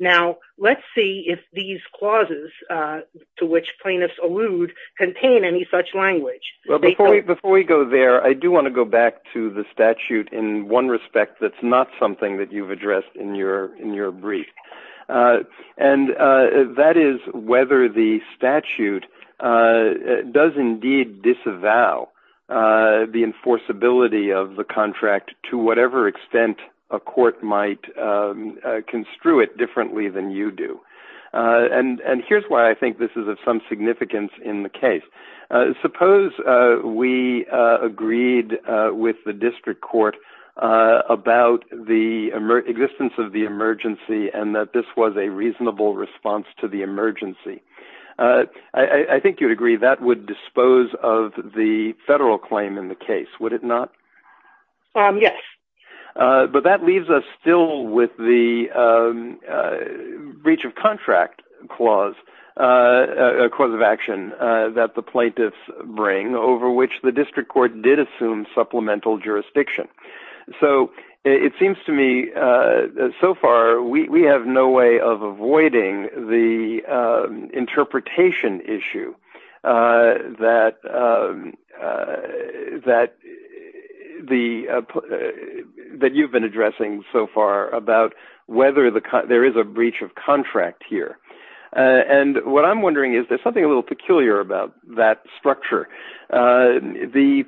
Now, let's see if these clauses to which plaintiffs allude contain any such language. Well, before we go there, I do want to go back to the statute in one respect that's not something that you've addressed in your brief. And that is whether the statute does indeed disavow the enforceability of the contract to whatever extent a court might construe it differently than you do. And here's why I think this is of some significance in the case. Suppose we agreed with the district court about the existence of the emergency and that this was a reasonable response to the emergency. I think you'd agree that would dispose of the federal claim in the case, would it not? Yes. But that leaves us still with the breach of contract clause, a clause of action that the plaintiffs bring over which the district court did assume supplemental jurisdiction. So it seems to me that so far, we have no way of avoiding the interpretation issue that you've been addressing so far about whether there is a breach of contract here. And what I'm wondering is there's something a little peculiar about that structure. The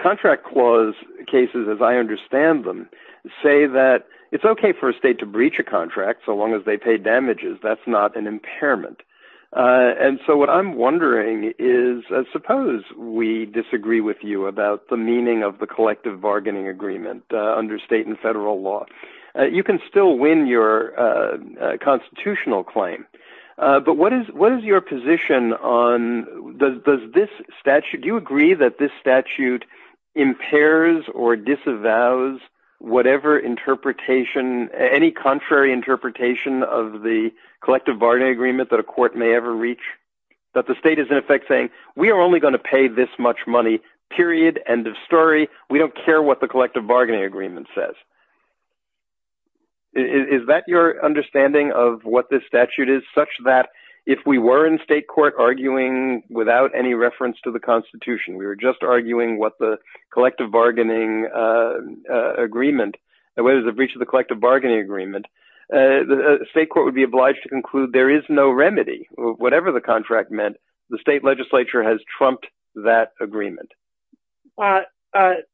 contract clause cases as I understand them, say that it's okay for a state to breach a contract so long as they pay damages, that's not an impairment. And so what I'm wondering is suppose we disagree with you about the meaning of the collective bargaining agreement under state and federal law. You can still win your constitutional claim. But what is your position on does this statute, do you agree that this statute impairs or disavows whatever interpretation, any contrary interpretation of the collective bargaining agreement that a court may ever reach? That the state is in effect saying, we are only going to pay this much money, period, end of story. We don't care what the collective bargaining agreement says. Is that your understanding of what this statute is such that if we were in state court arguing without any reference to the constitution, we were just arguing what the collective bargaining agreement, whether it's a breach of the collective bargaining agreement, the state court would be obliged to conclude there is no remedy. Whatever the contract meant, the state legislature has trumped that agreement. But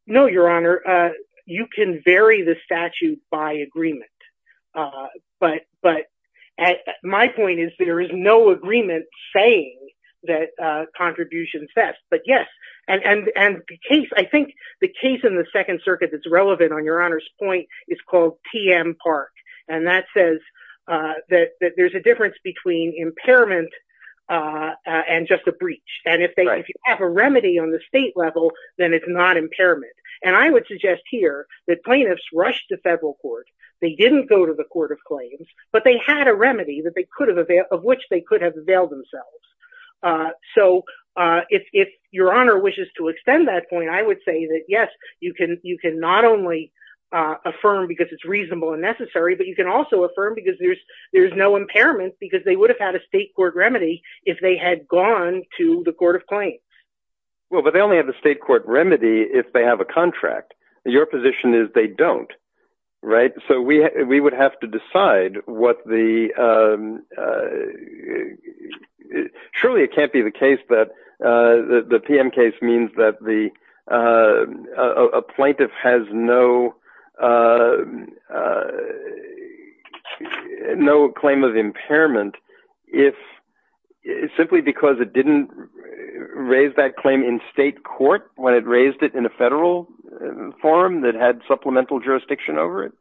no, your honor, you can vary the statute by agreement. But my point is there is no agreement saying that contribution sets. But yes, and the case, I think the case in the second circuit that's relevant on your honor's point is called TM Park. And that says that there's a difference between impairment and just a breach. And if they have a remedy on the state level, then it's not impairment. And I would suggest here that plaintiffs rushed to federal court. They didn't go to the court of claims, but they had a remedy that they could have, of which they could have availed themselves. So if your honor wishes to extend that point, I would say that, yes, you can not only affirm because it's reasonable and necessary, but you can also affirm because there's no impairment because they would have had a state court remedy if they had gone to the court of claims. Well, but they only have a state court remedy if they have a contract. Your position is they don't. Right. So we would have to decide what the surely it can't be the case that the TM case means that the plaintiff has no no claim of impairment if it's simply because it didn't raise that claim in state court when it raised it in a federal forum that had supplemental jurisdiction over it.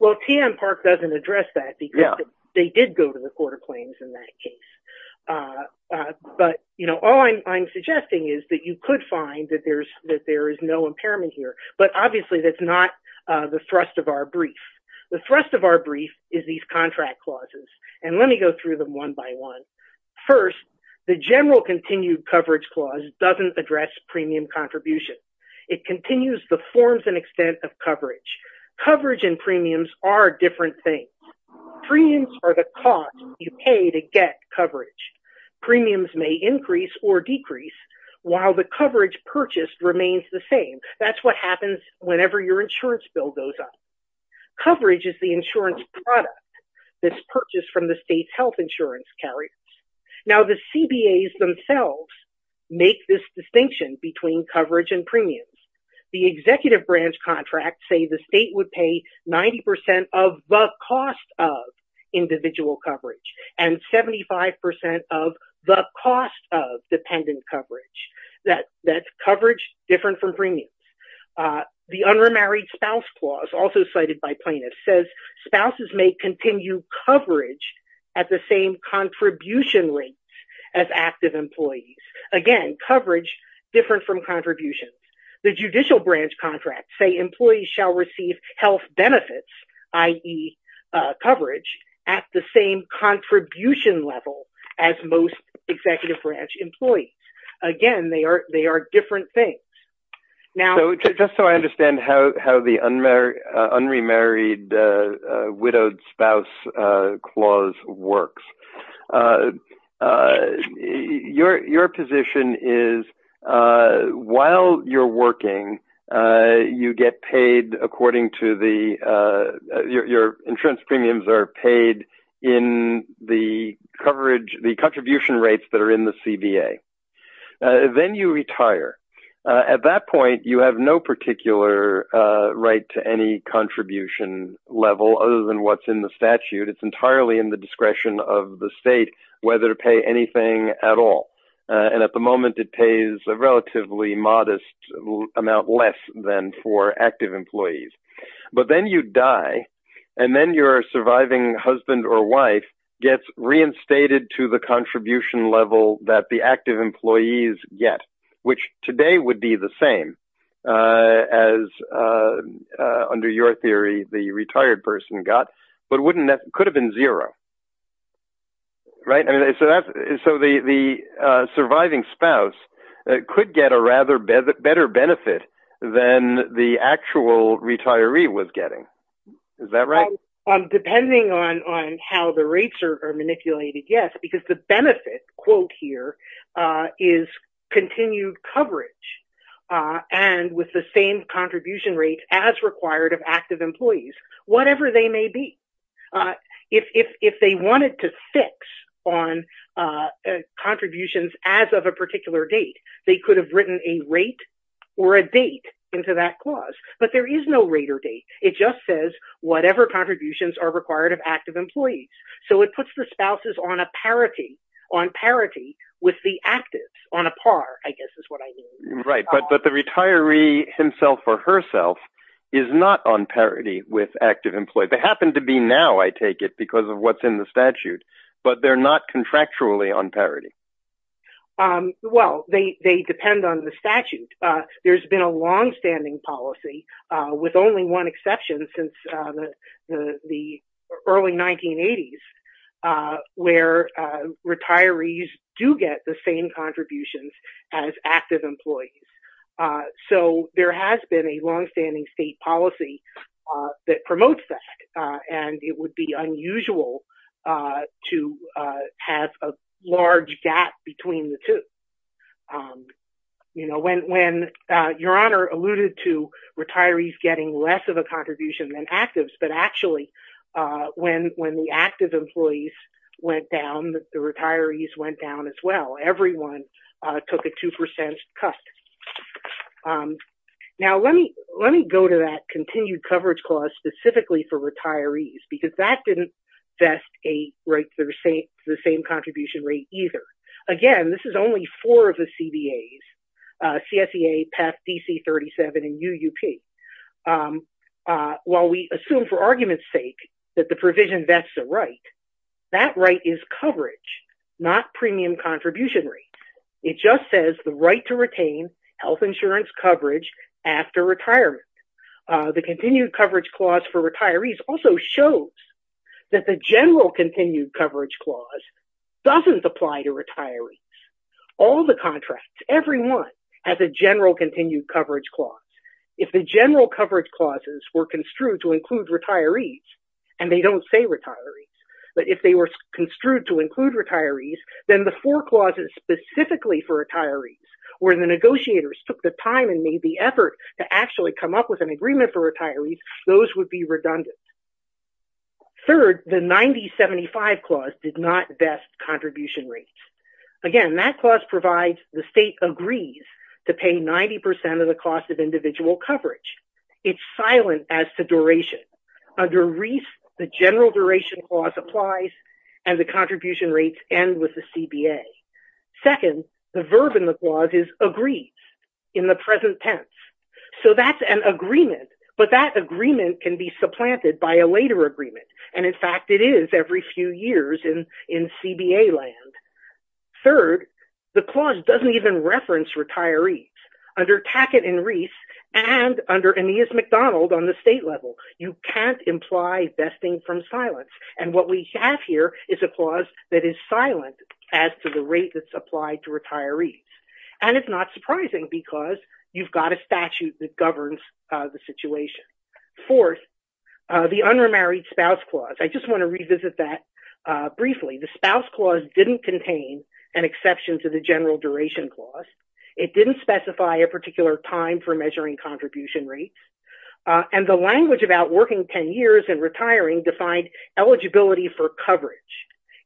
Well, TM Park doesn't address that because they did go to the court of claims in that case. But, you know, all I'm suggesting is that you could find that there's that there is no impairment here. But obviously, that's not the thrust of our brief. The thrust of our brief is these contract clauses. And let me go through them one by one. First, the general continued coverage clause doesn't address premium contribution. It continues the forms and extent of coverage. Coverage and premiums are different things. Premiums are the cost you pay to get coverage. Premiums may increase or decrease while the coverage purchased remains the same. That's what happens whenever your insurance bill goes up. Coverage is the insurance product that's purchased from the state's health insurance carrier. Now, the CBAs themselves make this distinction between coverage and premiums. The executive branch contracts say state would pay 90% of the cost of individual coverage and 75% of the cost of dependent coverage. That's coverage different from premiums. The unremarried spouse clause, also cited by plaintiffs, says spouses may continue coverage at the same contribution rates as active employees. Again, coverage different from contributions. The judicial branch contracts say employees shall receive health benefits, i.e., coverage, at the same contribution level as most executive branch employees. Again, they are different things. Just so I understand how the unremarried widowed spouse clause works. Your position is while you're working, your insurance premiums are paid in the coverage, the contribution rates that are in the CBA. Then you retire. At that point, you have no particular right to any contribution level other than what's in the statute. It's whether to pay anything at all. At the moment, it pays a relatively modest amount less than for active employees. Then you die. Then your surviving husband or wife gets reinstated to the contribution level that the active employees get, which today would be the same as, under your position. The surviving spouse could get a rather better benefit than the actual retiree was getting. Is that right? Depending on how the rates are manipulated, yes. The benefit quote here is continued coverage and with the same contribution rates as required of active employees. If they wanted to fix on contributions as of a particular date, they could have written a rate or a date into that clause. There is no rate or date. It just says whatever contributions are required of active employees. It puts the spouses on parity with the actives on a par, I guess is what I mean. The retiree himself or herself is not on the statute, but they're not contractually on parity. Well, they depend on the statute. There's been a longstanding policy with only one exception since the early 1980s where retirees do get the same contributions as active employees. There has been a longstanding state policy that promotes that. It would be unusual to have a large gap between the two. When your honor alluded to retirees getting less of a contribution than actives, but actually when the active employees went down, the retirees went down as well. Everyone took a 2% cut. Now, let me go to that continued coverage clause specifically for retirees, because that didn't vest the same contribution rate either. Again, this is only four of the CBAs, CSEA, PAC, DC37, and UUP. While we assume for argument's sake that the provision vests a right, that right is coverage, not premium contribution rate. It just says the right to retain health insurance coverage after retirement. The continued coverage clause for retirees also shows that the general continued coverage clause doesn't apply to retirees. All the contracts, every one has a general continued coverage clause. If the general coverage clauses were construed to include retirees, then the four clauses specifically for retirees where the negotiators took the time and made the effort to actually come up with an agreement for retirees, those would be redundant. Third, the 90-75 clause did not vest contribution rates. Again, that clause provides the state agrees to pay 90% of the cost of individual coverage. It's silent as to duration. Under REIS, the general duration clause applies and the contribution rates end with the CBA. Second, the verb in the clause is agrees in the present tense. So that's an agreement, but that agreement can be supplanted by a later agreement. In fact, it is every few years in CBA land. Third, the clause doesn't even reference retirees. Under Tackett and Reese and under Aeneas MacDonald on the state level, you can't imply vesting from silence. And what we have here is a clause that is silent as to the rate that's applied to retirees. And it's not surprising because you've got a statute that governs the situation. Fourth, the unremarried spouse clause. I just want to revisit that briefly. The spouse clause didn't contain an exception to the general duration clause. It didn't specify a particular time for measuring contribution rates. And the language about working 10 years and retiring defined eligibility for coverage.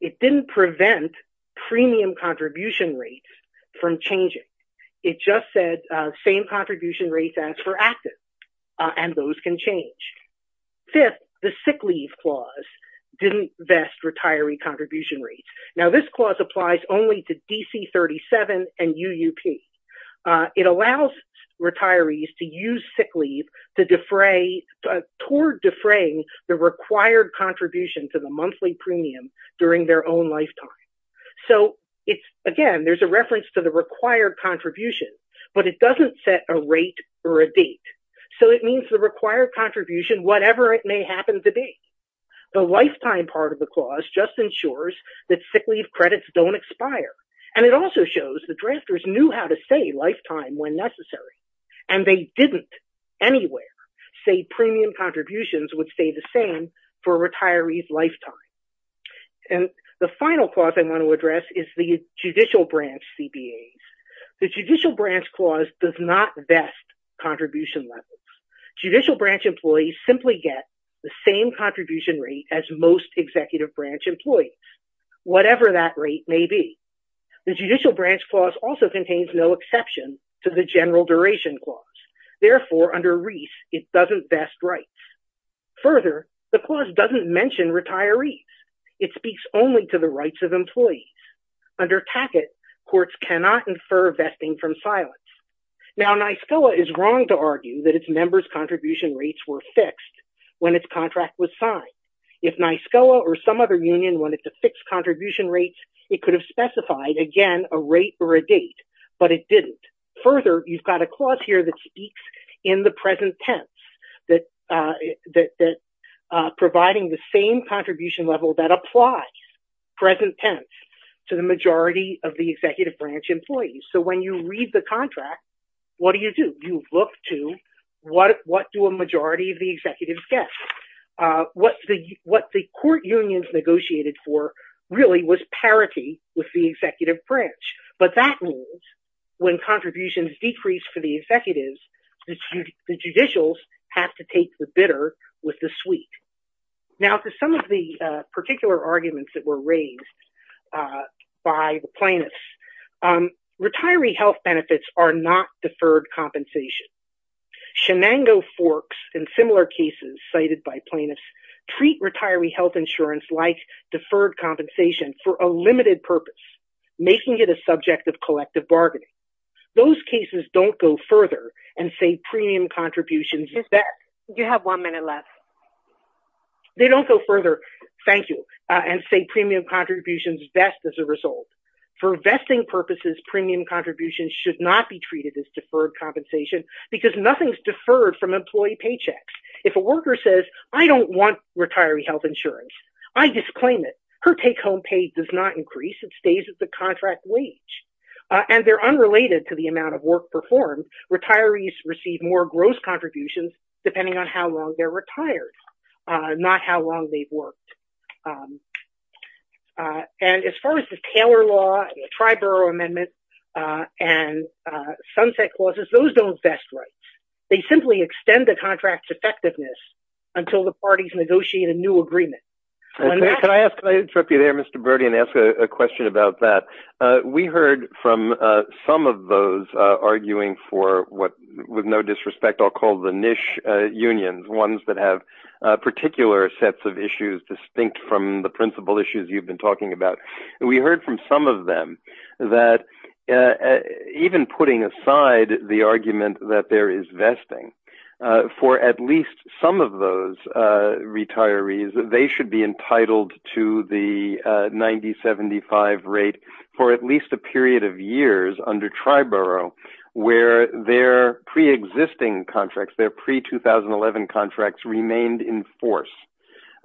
It didn't prevent premium contribution rates from changing. It just said same contribution rates as for active. And those can change. Fifth, the sick leave clause didn't vest DC37 and UUP. It allows retirees to use sick leave to defray, toward defraying the required contribution to the monthly premium during their own lifetime. So it's, again, there's a reference to the required contribution, but it doesn't set a rate or a date. So it means the required contribution, whatever it may happen to be. The lifetime part of the clause just ensures that sick leave credits don't expire. And it also shows the drafters knew how to say lifetime when necessary. And they didn't anywhere say premium contributions would stay the same for retirees' lifetime. And the final clause I want to address is the judicial branch CBAs. The judicial branch clause does not vest contribution levels. Judicial branch employees simply get the same contribution rate as most executive branch employees, whatever that rate may be. The judicial branch clause also contains no exception to the general duration clause. Therefore, under Reese, it doesn't vest rights. Further, the clause doesn't mention retirees. It speaks only to the rights of employees. Under Packett, courts cannot infer vesting from silence. Now, NYSCOA is wrong to argue that its members' contribution rates were fixed when its contract was signed. If NYSCOA or some other union wanted to fix contribution rates, it could have specified, again, a rate or a date. But it didn't. Further, you've got a clause here that speaks in the present tense, that providing the same contribution level that applies, present tense, to the majority of the executive branch employees. So when you read the contract, what do you do? You look to what do a majority of the executives get? What the court unions negotiated for really was parity with the executive branch. But that means when contributions decrease for the executives, the judicials have to take the bitter with the rates that were raised by the plaintiffs. Retiree health benefits are not deferred compensation. Shenango Forks and similar cases cited by plaintiffs treat retiree health insurance like deferred compensation for a limited purpose, making it a subject of collective bargaining. Those cases don't go further and say premium contributions- You're back. You have one minute left. They don't go further, thank you, and say premium contributions vest as a result. For vesting purposes, premium contributions should not be treated as deferred compensation because nothing's deferred from employee paychecks. If a worker says, I don't want retiree health insurance, I disclaim it. Her take-home pay does not increase. It stays at the contract wage. And they're unrelated to the amount of work performed. Retirees receive more contributions depending on how long they're retired, not how long they've worked. And as far as the Taylor Law, the Triborough Amendment, and sunset clauses, those don't vest rights. They simply extend the contract's effectiveness until the parties negotiate a new agreement. Can I interrupt you there, Mr. Bertie, and ask a question about that? We heard from some of those arguing for what, with no disrespect, I'll call the niche unions, ones that have particular sets of issues distinct from the principal issues you've been talking about. We heard from some of them that even putting aside the argument that there is vesting, for at least some of those retirees, they should be entitled to the 90-75 rate for at least a where their pre-existing contracts, their pre-2011 contracts remained in force.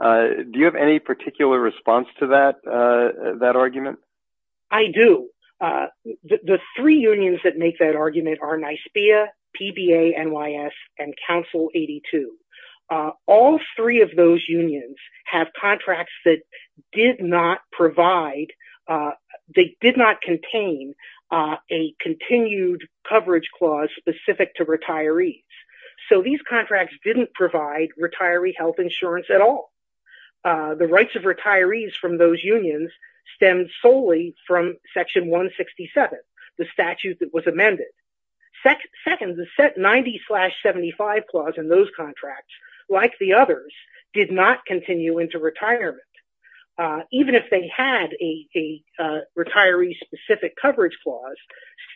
Do you have any particular response to that argument? I do. The three unions that make that argument are NYSBEA, PBA-NYS, and Council 82. All three of those unions have contracts that did not contain a continued coverage clause specific to retirees. So these contracts didn't provide retiree health insurance at all. The rights of retirees from those unions stem solely from Section 167, the statute that was amended. Second, the 90-75 clause in those contracts, like the others, did not continue into retirement. Even if they had a retiree-specific coverage clause,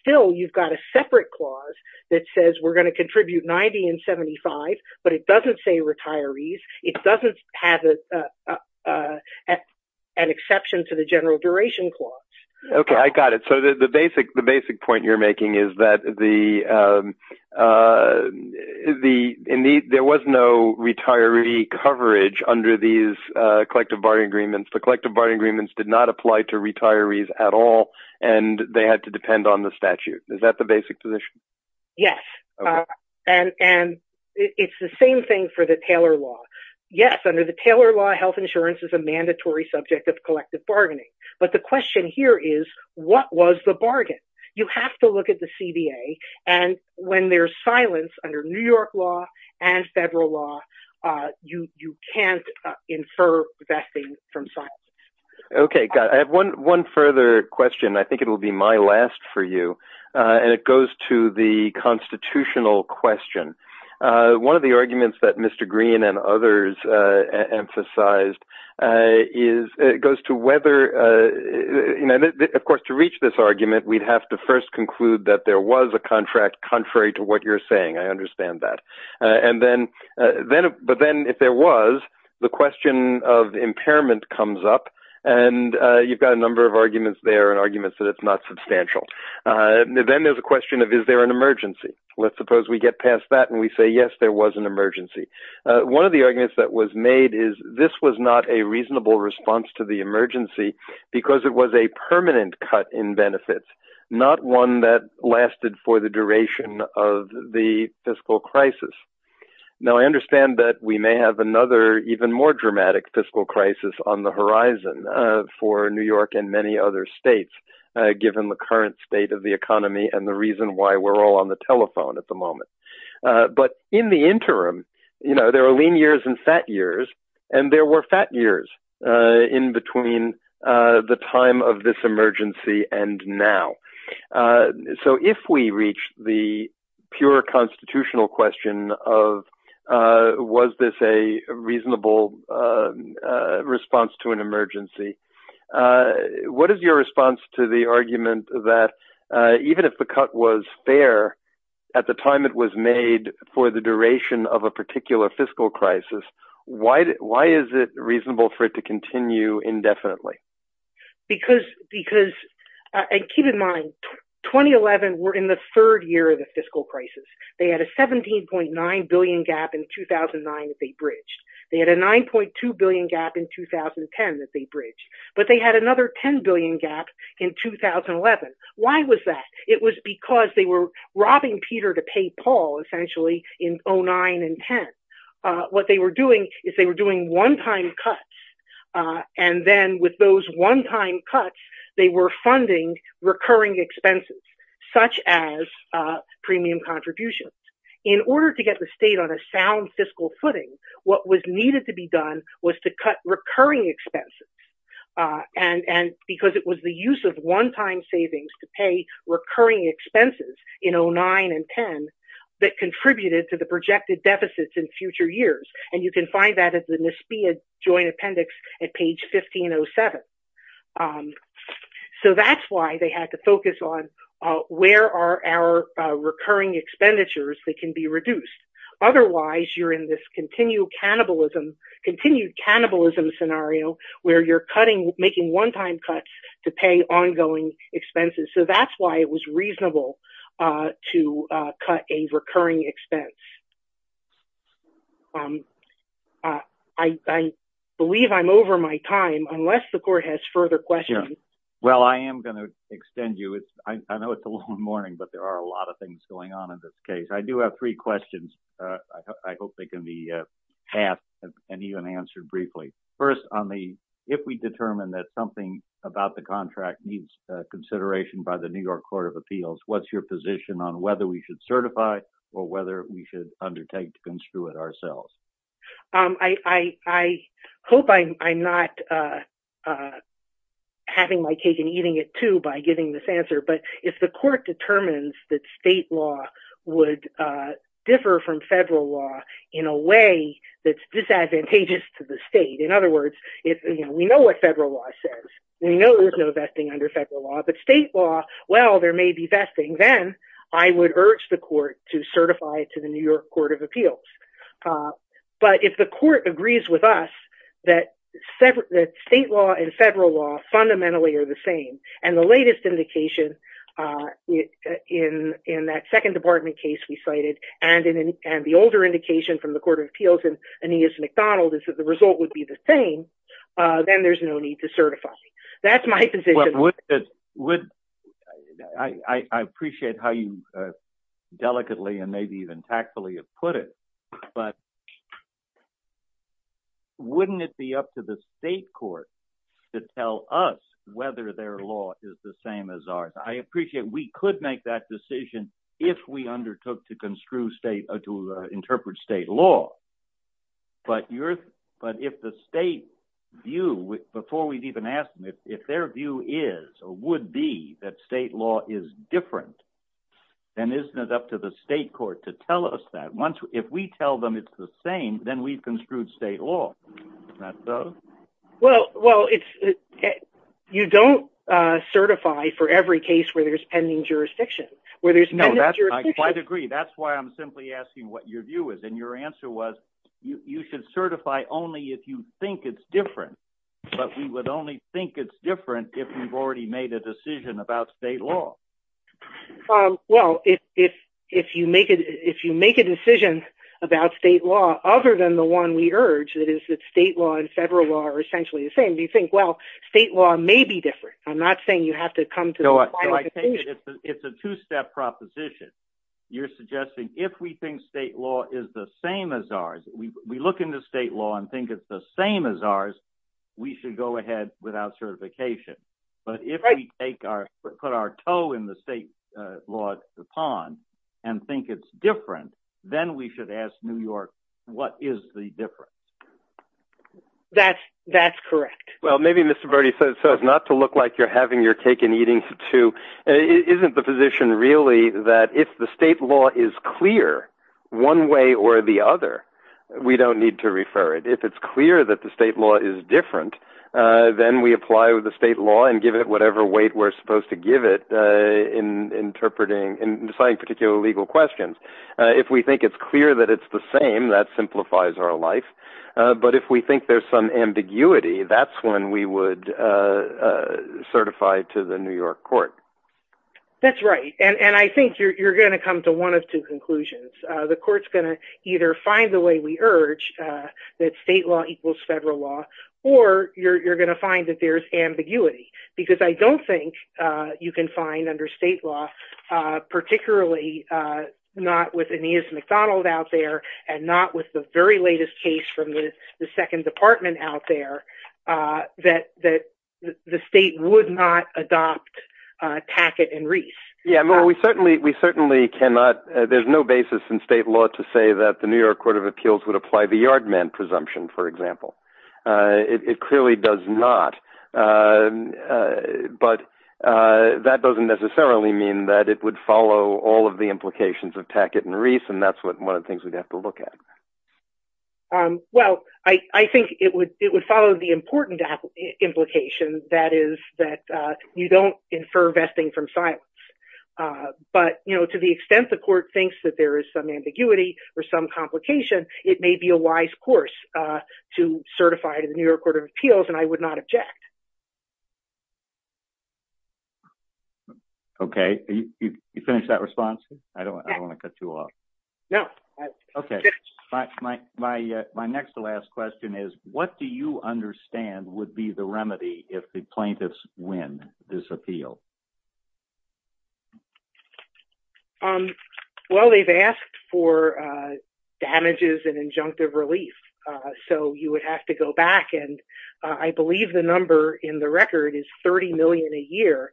still you've got a separate clause that says we're going to contribute 90 and 75, but it doesn't say retirees. It doesn't have an exception to the general duration clause. Okay, I got it. So the basic point you're making is that there was no retiree coverage under these collective bargaining agreements. The collective bargaining agreements did not apply to retirees at all, and they had to depend on the statute. Is that the basic position? Yes. And it's the same thing for the Taylor Law. Yes, under the Taylor Law, health insurance is a what-was-the-bargain. You have to look at the CDA, and when there's silence under New York Law and federal law, you can't infer vesting from silence. Okay, got it. I have one further question. I think it will be my last for you, and it goes to the constitutional question. One of the arguments that Mr. Green and others emphasized goes to whether, of course, to reach this argument, we'd have to first conclude that there was a contract contrary to what you're saying. I understand that. But then if there was, the question of impairment comes up, and you've got a number of arguments there and arguments that it's not substantial. Then there's a question of is there an emergency? Let's suppose we get past that and we say, yes, there was an emergency. One of the arguments that was made is this was not a reasonable response to the emergency because it was a permanent cut in benefits, not one that lasted for the duration of the fiscal crisis. Now, I understand that we may have another even more dramatic fiscal crisis on the horizon for New York and many other states, given the current state of the economy and the reason why we're all on the telephone at the moment. But in the interim, there are lean years and fat years, and there were fat years in between the time of this emergency and now. So if we reach the pure constitutional question of was this a reasonable response to an emergency, what is your response to the argument that even if the cut was fair at the time it was made for the duration of a particular fiscal crisis, why is it reasonable for it to continue indefinitely? Because keep in mind, 2011, we're in the third year of the fiscal crisis. They had a $17.9 billion gap in 2009 that they bridged. They had a $9.2 billion gap in 2010 that they bridged. But they had another $10 billion gap in 2011. Why was that? It was because they were robbing Peter to pay Paul, essentially, in 2009 and 2010. What they were doing is they were doing one-time cuts, and then with those one-time cuts, they were funding recurring expenses, such as premium contributions. In order to get the state on a sound fiscal footing, what was needed to be done was to cut recurring expenses. And because it was the use of one-time savings to pay recurring expenses in 2009 and 2010 that contributed to the projected deficits in future years. And you can find that at the NSBEA Joint Appendix at page 1507. So that's why they had to focus on where are our recurring expenditures that can be reduced. Otherwise, you're in this continued cannibalism scenario where you're making one-time cuts to pay ongoing expenses. So that's why it was reasonable to cut a recurring expense. I believe I'm over my time, unless the court has further questions. Well, I am going to extend you. I know it's a long morning, but there are a lot of things going on in this case. I do have three questions. I hope they can be asked and even answered briefly. First, if we determine that something about the contract needs consideration by the New York Court of Appeals, what's your position on whether we should certify or whether we should undertake to construe it ourselves? I hope I'm not having my cake and eating it too by giving this answer. But if the court determines that state law would differ from federal law in a way that's disadvantageous to the state. In other words, we know what federal law says. We know there's no vesting under federal law. But state law, well, there may be vesting. Then I would urge the court to certify it to the New York Court of Appeals. But if the court agrees with us that state law and federal law fundamentally are the same and the latest indication in that second department case we cited and the older indication from the Court of Appeals and Aeneas McDonald is that the result would be the same, then there's no need to certify. That's my position. I appreciate how you delicately and maybe even tactfully have put it. But wouldn't it be up to the state court to tell us whether their law is the same as ours? I appreciate we could make that decision if we undertook to construe state or to interpret state law. But if the state view, before we even ask them, if their view is or would be that state law is different, then isn't it up to the state court to tell us that? If we tell them it's the same, then we've construed state law. Isn't that so? Well, you don't certify for every case where there's pending jurisdiction. I agree. That's why I'm simply asking what your view is. And your answer was you should certify only if you think it's different. But we would think it's different if you've already made a decision about state law. Well, if you make a decision about state law, other than the one we urge, that is that state law and federal law are essentially the same, do you think, well, state law may be different? I'm not saying you have to come to a final decision. It's a two-step proposition. You're suggesting if we think state law is the same as ours, we look into state law and think it's the same as ours, we should go ahead without certification. But if we put our toe in the state law pond and think it's different, then we should ask New York, what is the difference? That's correct. Well, maybe Mr. Brody says not to look like you're having your cake and eating too. Isn't the position really that if the state law is clear one way or the other, we don't need to refer it? If it's clear that the state law is different, then we apply the state law and give it whatever weight we're supposed to give it in deciding particular legal questions. If we think it's clear that it's the same, that simplifies our life. But if we think there's some ambiguity, that's when we would certify to the New York court. That's right. I think you're going to come to one of two conclusions. The court's going to either find the way we urge that state law equals federal law, or you're going to find that there's ambiguity. Because I don't think you can find under state law, particularly not with Aeneas McDonald out there and not with the very latest case from the second department out there, that the state would not adopt Packett and Reese. Well, there's no basis in state law to say that the New York court of appeals would apply the yard man presumption, for example. It clearly does not. But that doesn't necessarily mean that it would follow all of the implications of Packett and Reese, and that's one of the things we'd have to look at. Well, I think it would follow the but to the extent the court thinks that there is some ambiguity or some complication, it may be a wise course to certify to the New York court of appeals, and I would not object. Okay. You finished that response? I don't want to cut you off. My next to last question is, what do you understand would be the remedy if the plaintiffs win this appeal? Well, they've asked for damages and injunctive relief, so you would have to go back, and I believe the number in the record is $30 million a year,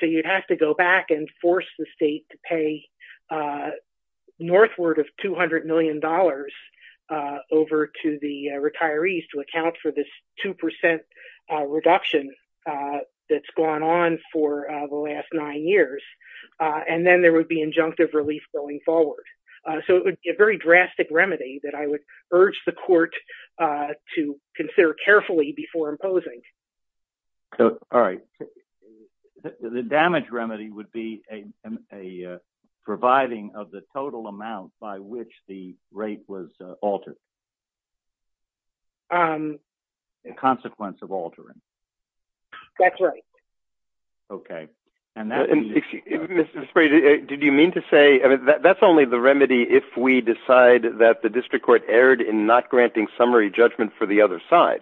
so you'd have to go back and force the state to pay northward of $200 million over to the retirees to account for this 2% reduction that's gone on for the last nine years, and then there would be injunctive relief going forward. So it would be a very drastic remedy that I would urge the court to consider carefully before imposing. All right. The damage remedy would be a providing of the total amount by which the rate was altered, a consequence of altering. That's right. Okay. Mr. Sprague, did you mean to say that's only the remedy if we decide that the district court erred in not granting summary judgment for the fair?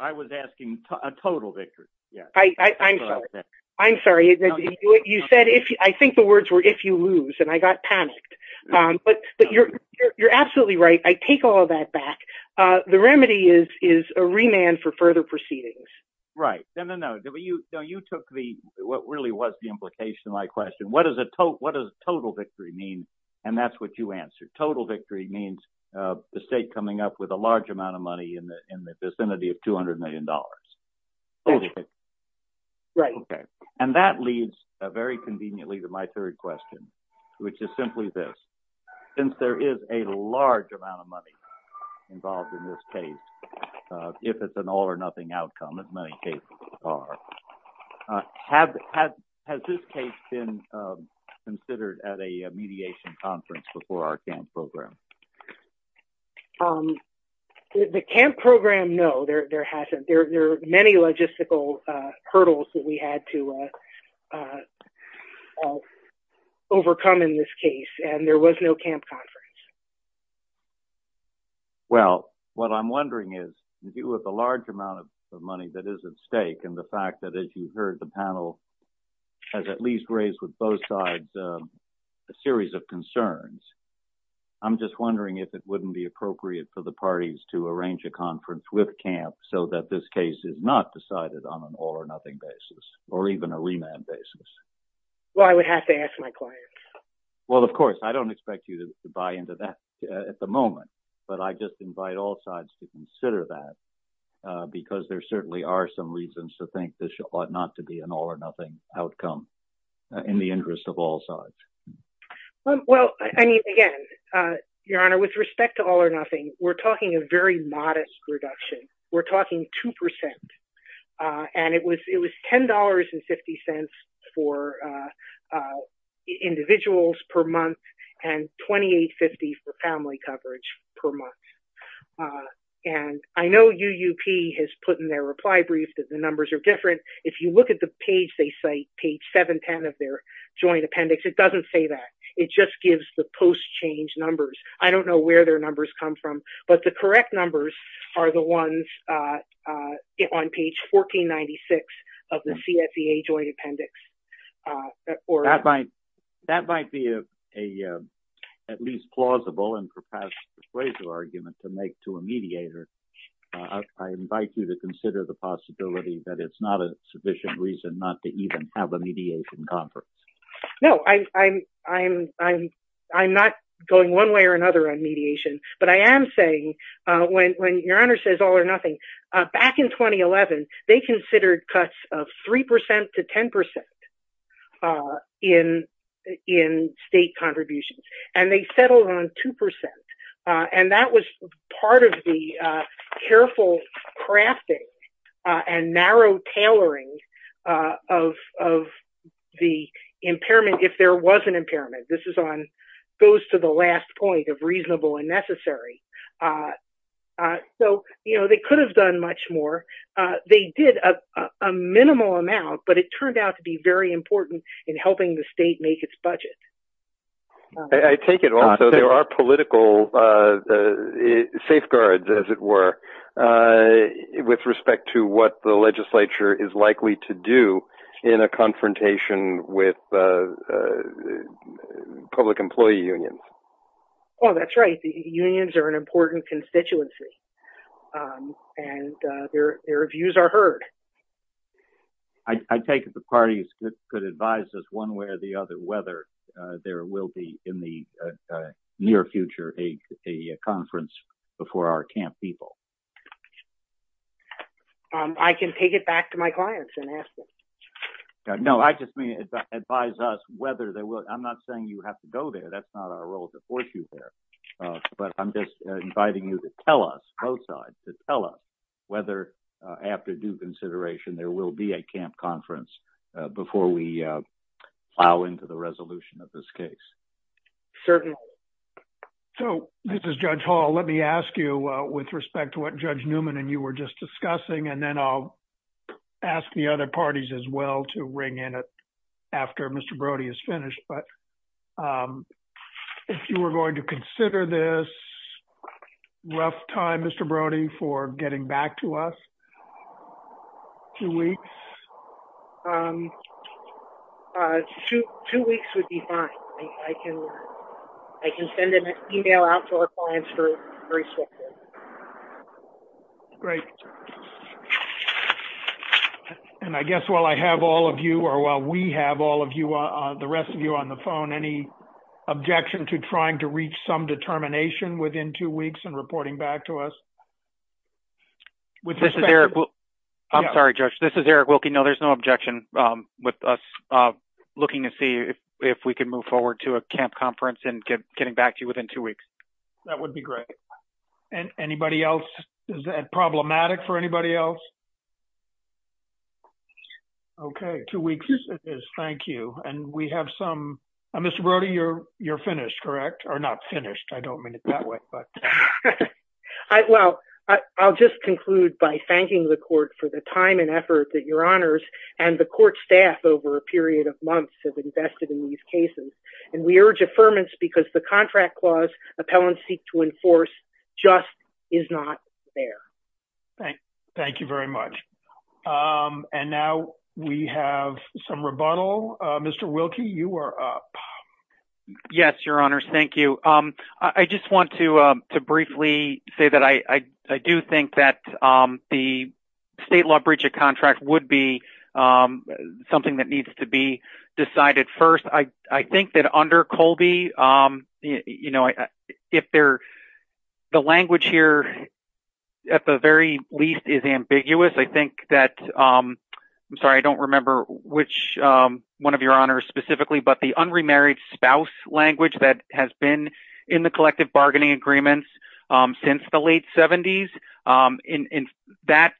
I was asking a total victory. I'm sorry. I'm sorry. You said, I think the words were, if you lose, and I got panicked, but you're absolutely right. I take all that back. The remedy is a remand for further proceedings. Right. No, you took what really was the implication of my question. What does total victory mean? And that's what you answered. Total victory means the state coming up with a large amount of money in the vicinity of $200 million. And that leads very conveniently to my third question, which is simply this, since there is a large amount of money involved in this case, if it's an all or nothing outcome, has this case been considered at a mediation conference before our CAMP program? The CAMP program, no, there hasn't. There are many logistical hurdles that we had to overcome in this case, and there was no CAMP conference. Well, what I'm wondering is, with a large amount of money that is at stake and the fact that, as you heard, the panel has at least raised with both sides a series of concerns. I'm just wondering if it wouldn't be appropriate for the parties to arrange a conference with CAMP so that this case is not decided on an all or nothing basis, or even a remand basis? Well, I would have to ask my clients. Well, of course, I don't expect you to buy into that at the moment, but I just invite all sides to consider that because there certainly are some reasons to think this ought not to be an all or nothing outcome in the interest of all sides. Well, I mean, again, Your Honor, with respect to all or nothing, we're talking a very modest reduction. We're talking 2%. And it was $10.50 for individuals per month and $28.50 for family coverage per month. And I know UUP has put in their reply brief that the numbers are different. If you look at the page they cite, page 710 of their joint appendix, it doesn't say that. It just gives the post-change numbers. I don't know where their numbers come from, but the correct numbers are the ones on page 1496 of the CSEA joint appendix. That might be at least a plausible and perhaps persuasive argument to make to a mediator. I invite you to consider the possibility that it's not a sufficient reason not to even have a mediation conference. No, I'm not going one way or another on mediation, but I am saying, when Your Honor says all or nothing, back in 2011, they considered cuts of 3% to 10% in state contributions. And they settled on 2%. And that was part of the careful crafting and narrow tailoring of the impairment, if there was an impairment. This goes to the last point of reasonable and necessary. They could have done much more. They did a minimal amount, but it turned out to be very important in helping the state make its budget. I take it also there are political safeguards, as it were, with respect to what the legislature is likely to do in a confrontation with public employee unions. Well, that's right. The unions are an important constituency. And their views are heard. I take it the parties could advise us one way or the other whether there will be, in the near future, a conference before our camp people. I can take it back to my clients and ask them. No, I just mean advise us whether they will. I'm not saying you have to go there. That's not our role to force you there. But I'm just inviting you to tell us, both sides, to tell us whether, after due consideration, there will be a camp conference before we plow into the resolution of this case. Certainly. So, this is Judge Hall. Let me ask you, with respect to what Judge Newman and you were just discussing, and then I'll ask the other parties, as well, to ring in after Mr. Brody is finished, but if you were going to consider this rough time, Mr. Brody, for getting back to us, two weeks? Two weeks would be fine. I can send an email out to our clients for a response. Great. And I guess, while I have all of you, or while we have all of you, the rest of you, on the phone, any objection to trying to reach some determination within two weeks and reporting back to us? I'm sorry, Judge. This is Eric Wilke. No, there's no objection with us looking to see if we can move forward to a camp conference and getting back to you within two weeks. That would be great. And anybody else? Is that problematic for anybody else? Okay. Two weeks it is. Thank you. And we have some... Mr. Brody, you're finished, correct? Or not finished. I don't mean it that way, but... Well, I'll just conclude by thanking the court for the time and effort that your honors and the court staff over a period of months have invested in these cases. And we urge deferments because the contract clause appellants seek to enforce just is not there. Thank you very much. And now we have some rebuttal. Mr. Wilke, you are up. Yes, your honors. Thank you. I just want to briefly say that I do think that the state law breach of contract would be something that needs to be decided first. I think that under Colby, the language here at the very least is ambiguous. I think that... I'm sorry, I don't remember which one of your honors specifically, but the unremarried spouse language that has been in the collective bargaining agreements since the late 70s, and that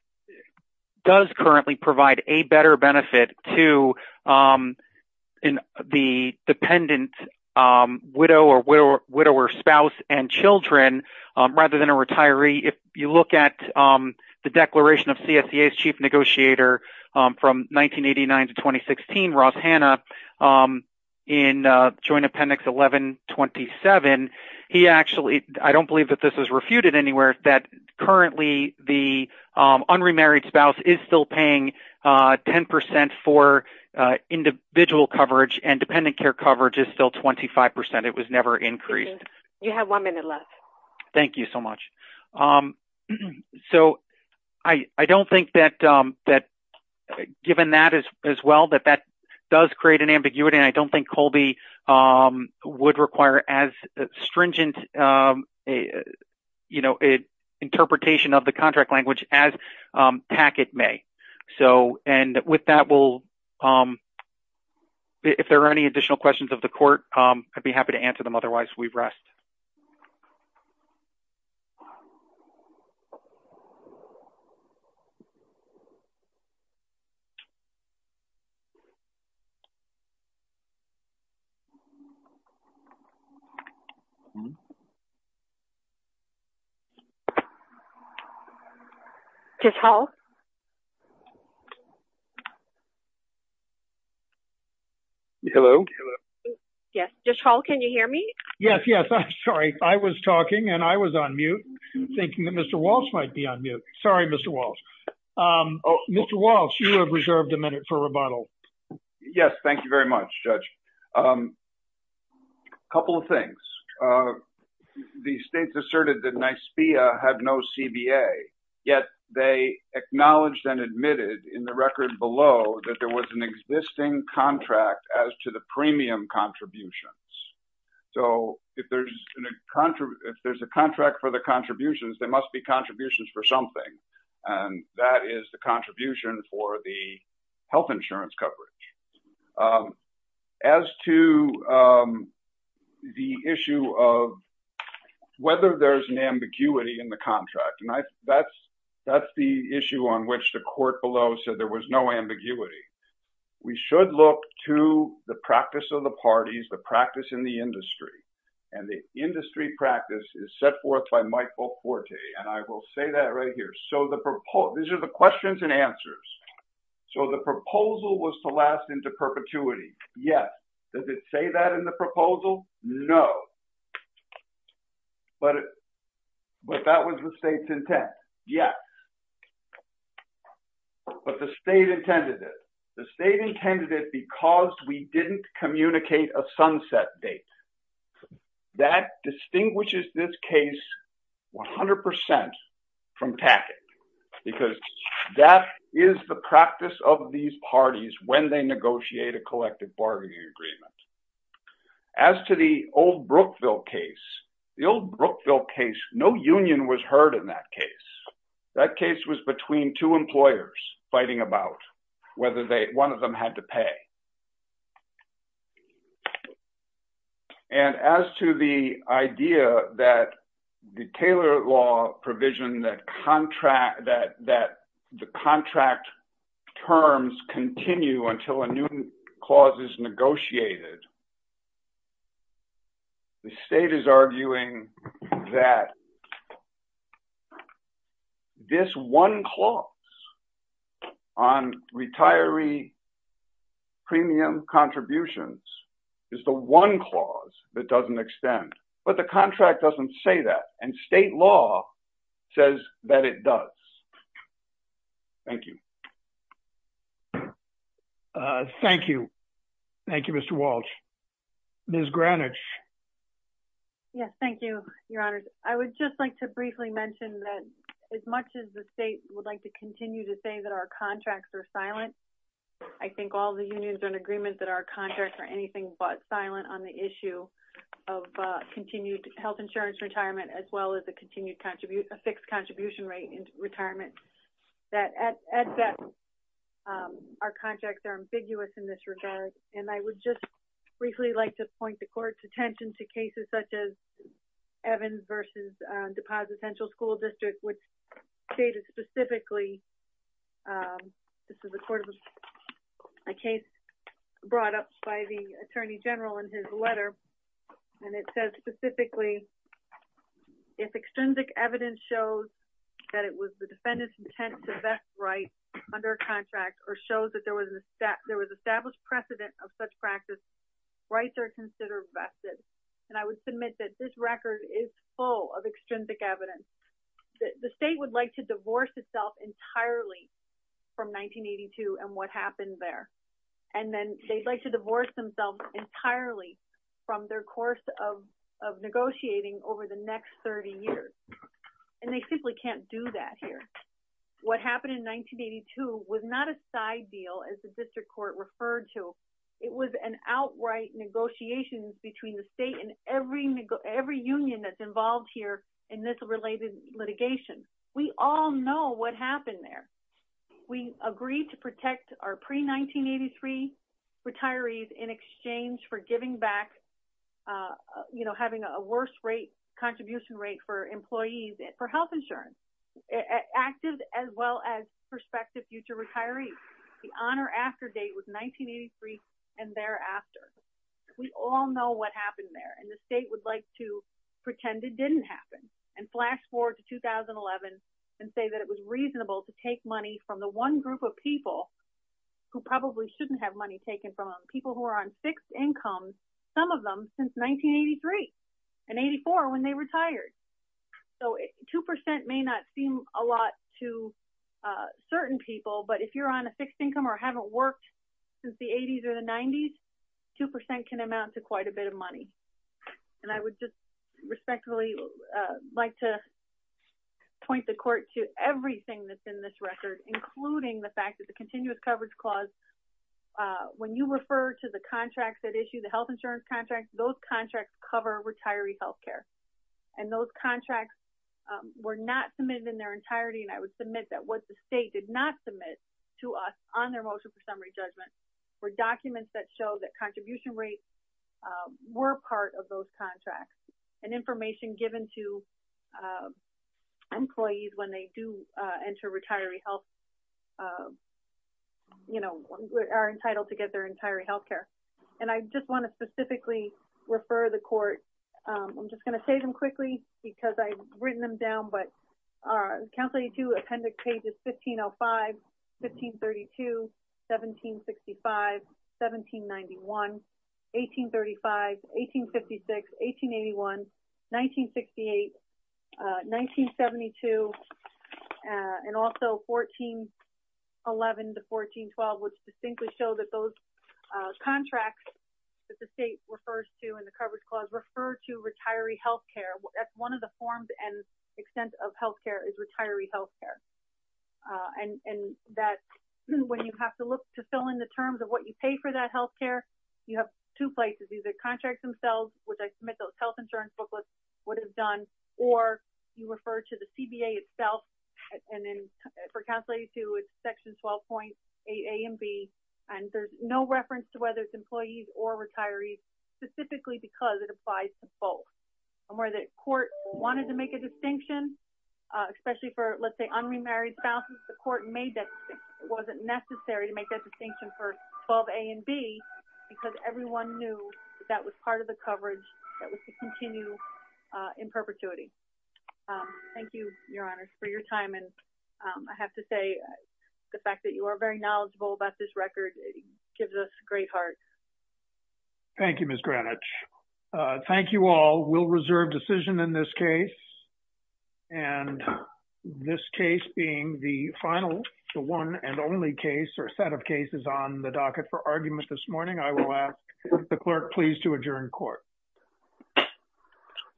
does currently provide a better benefit to the dependent widow or spouse and children rather than a retiree. If you look at the declaration of CSCA's chief negotiator from 1989 to 2016, Ross Hanna, in joint appendix 1127, he actually... I don't believe that this the unremarried spouse is still paying 10% for individual coverage and dependent care coverage is still 25%. It was never increased. You have one minute left. Thank you so much. So I don't think that given that as well, that that does create an ambiguity. I don't think Colby would require as stringent an interpretation of the contract language as TACCET may. And with that, if there are any additional questions of the court, I'd be happy to answer them. Otherwise, we rest. Ms. Hall? Hello? Yes. Ms. Hall, can you hear me? Yes. Yes. I'm sorry. I was talking and I was on mute, thinking that Mr. Walsh might be on mute. Sorry, Mr. Walsh. Mr. Walsh, you have reserved a minute for rebuttal. Yes. Thank you very much, Judge. A couple of things. The states asserted that NYSBIA had no CBA, yet they acknowledged and admitted in the record below that there was an existing contract as to the premium contributions. So if there's a contract for the contributions, there must be coverage. As to the issue of whether there's an ambiguity in the contract, that's the issue on which the court below said there was no ambiguity. We should look to the practice of the parties, the practice in the industry. And the industry practice is set forth by Michael Forte. And I will say that right here. These are the questions and answers. So the proposal was to last into perpetuity. Yes. Does it say that in the proposal? No. But that was the state's intent. Yes. But the state intended it. The state intended it because we didn't communicate a sunset date. That distinguishes this case 100% from tactic. Because that is the practice of these parties when they negotiate a collective bargaining agreement. As to the old Brookville case, the old Brookville case, no union was heard in that case. That case was between two employers fighting about whether one of them had to pay. And as to the idea that the Taylor Law provision that the contract terms continue until a new clause is negotiated, the state is arguing that this one clause on retiree premium contributions is the one clause that doesn't extend. But the contract doesn't say that. And state law says that it does. Thank you. Thank you. Thank you, Mr. Walsh. Ms. Greenwich. Yes. Thank you, Your Honor. I would just like to briefly mention that as much as the state would like to continue to say that our contracts are silent, I think all the unions are in agreement that our contracts are anything but silent on the issue of continued health insurance retirement as well as a fixed contribution rate in retirement. Our contracts are ambiguous in this regard. And I would just briefly like to point the court's attention to cases such as Evans versus Deposit Central School District, which stated specifically, this is a case brought up by the Attorney General in his letter. And it says specifically, if extrinsic evidence shows that it was the defendant's intent to vest rights under a contract or shows that there was an established precedent of such practice, rights are considered vested. And I would submit that this record is full of extrinsic evidence that the state would like to divorce itself entirely from 1982 and what happened there. And then they'd like to divorce themselves entirely from their course of negotiating over the next 30 years. And they simply can't do that here. What happened in 1982 was not a side deal, as the district court referred to. It was an outright negotiations between the state and every union that's involved here in this related litigation. We all know what happened there. We agreed to protect our pre-1983 retirees in exchange for giving back, you know, having a worse rate contribution rate for employees for health insurance, active as well as prospective future retirees. The on or after date was 1983 and thereafter. We all know what happened there. And the state would like to pretend it didn't happen and flash forward to 2011 and say that it was reasonable to take money from the one group of people who probably shouldn't have money taken from people who are on income, some of them since 1983 and 84 when they retired. So 2% may not seem a lot to certain people, but if you're on a fixed income or haven't worked since the 80s or the 90s, 2% can amount to quite a bit of money. And I would just respectfully like to point the court to everything that's in this record, including the fact that the continuous contracts that issue the health insurance contracts, those contracts cover retiree health care. And those contracts were not submitted in their entirety. And I would submit that what the state did not submit to us on their motion for summary judgment were documents that showed that contribution rates were part of those contracts and information given to employees when they do enter retiree health, you know, are entitled to get their entire health care. And I just want to specifically refer the court. I'm just going to say them quickly, because I've written them down, but our county to appendix pages 1505 1532 1765 1791 1835 1856 1881 1968 1972. And also 1411 to 1412 was distinguished show that those contracts that the state refers to in the coverage clause refer to retiree health care, one of the forms and extent of health care is retiree health care. And that when you have to look to fill in the terms of what you pay for that health care, you have two places either contracts themselves with a mental health insurance booklet would have done or you refer to the CBA itself. And then for cancellation to its section 12.a and b. And there's no reference to whether it's employees or retirees, specifically because it applies to both where the court wanted to make a distinction, especially for, let's say, unmarried spouses, the court made that wasn't necessary to make a distinction for 12 a and b, because everyone knew that was part of the coverage that was to continue in perpetuity. Thank you, Your Honor, for your time. And I have to say, the fact that you are very knowledgeable about this record gives us great heart. Thank you, Miss Greenwich. Thank you all will reserve decision in this case. And this case being the final one and only case or set of cases on the docket for argument this I will ask the clerk please to adjourn court.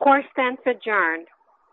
Course sense adjourned.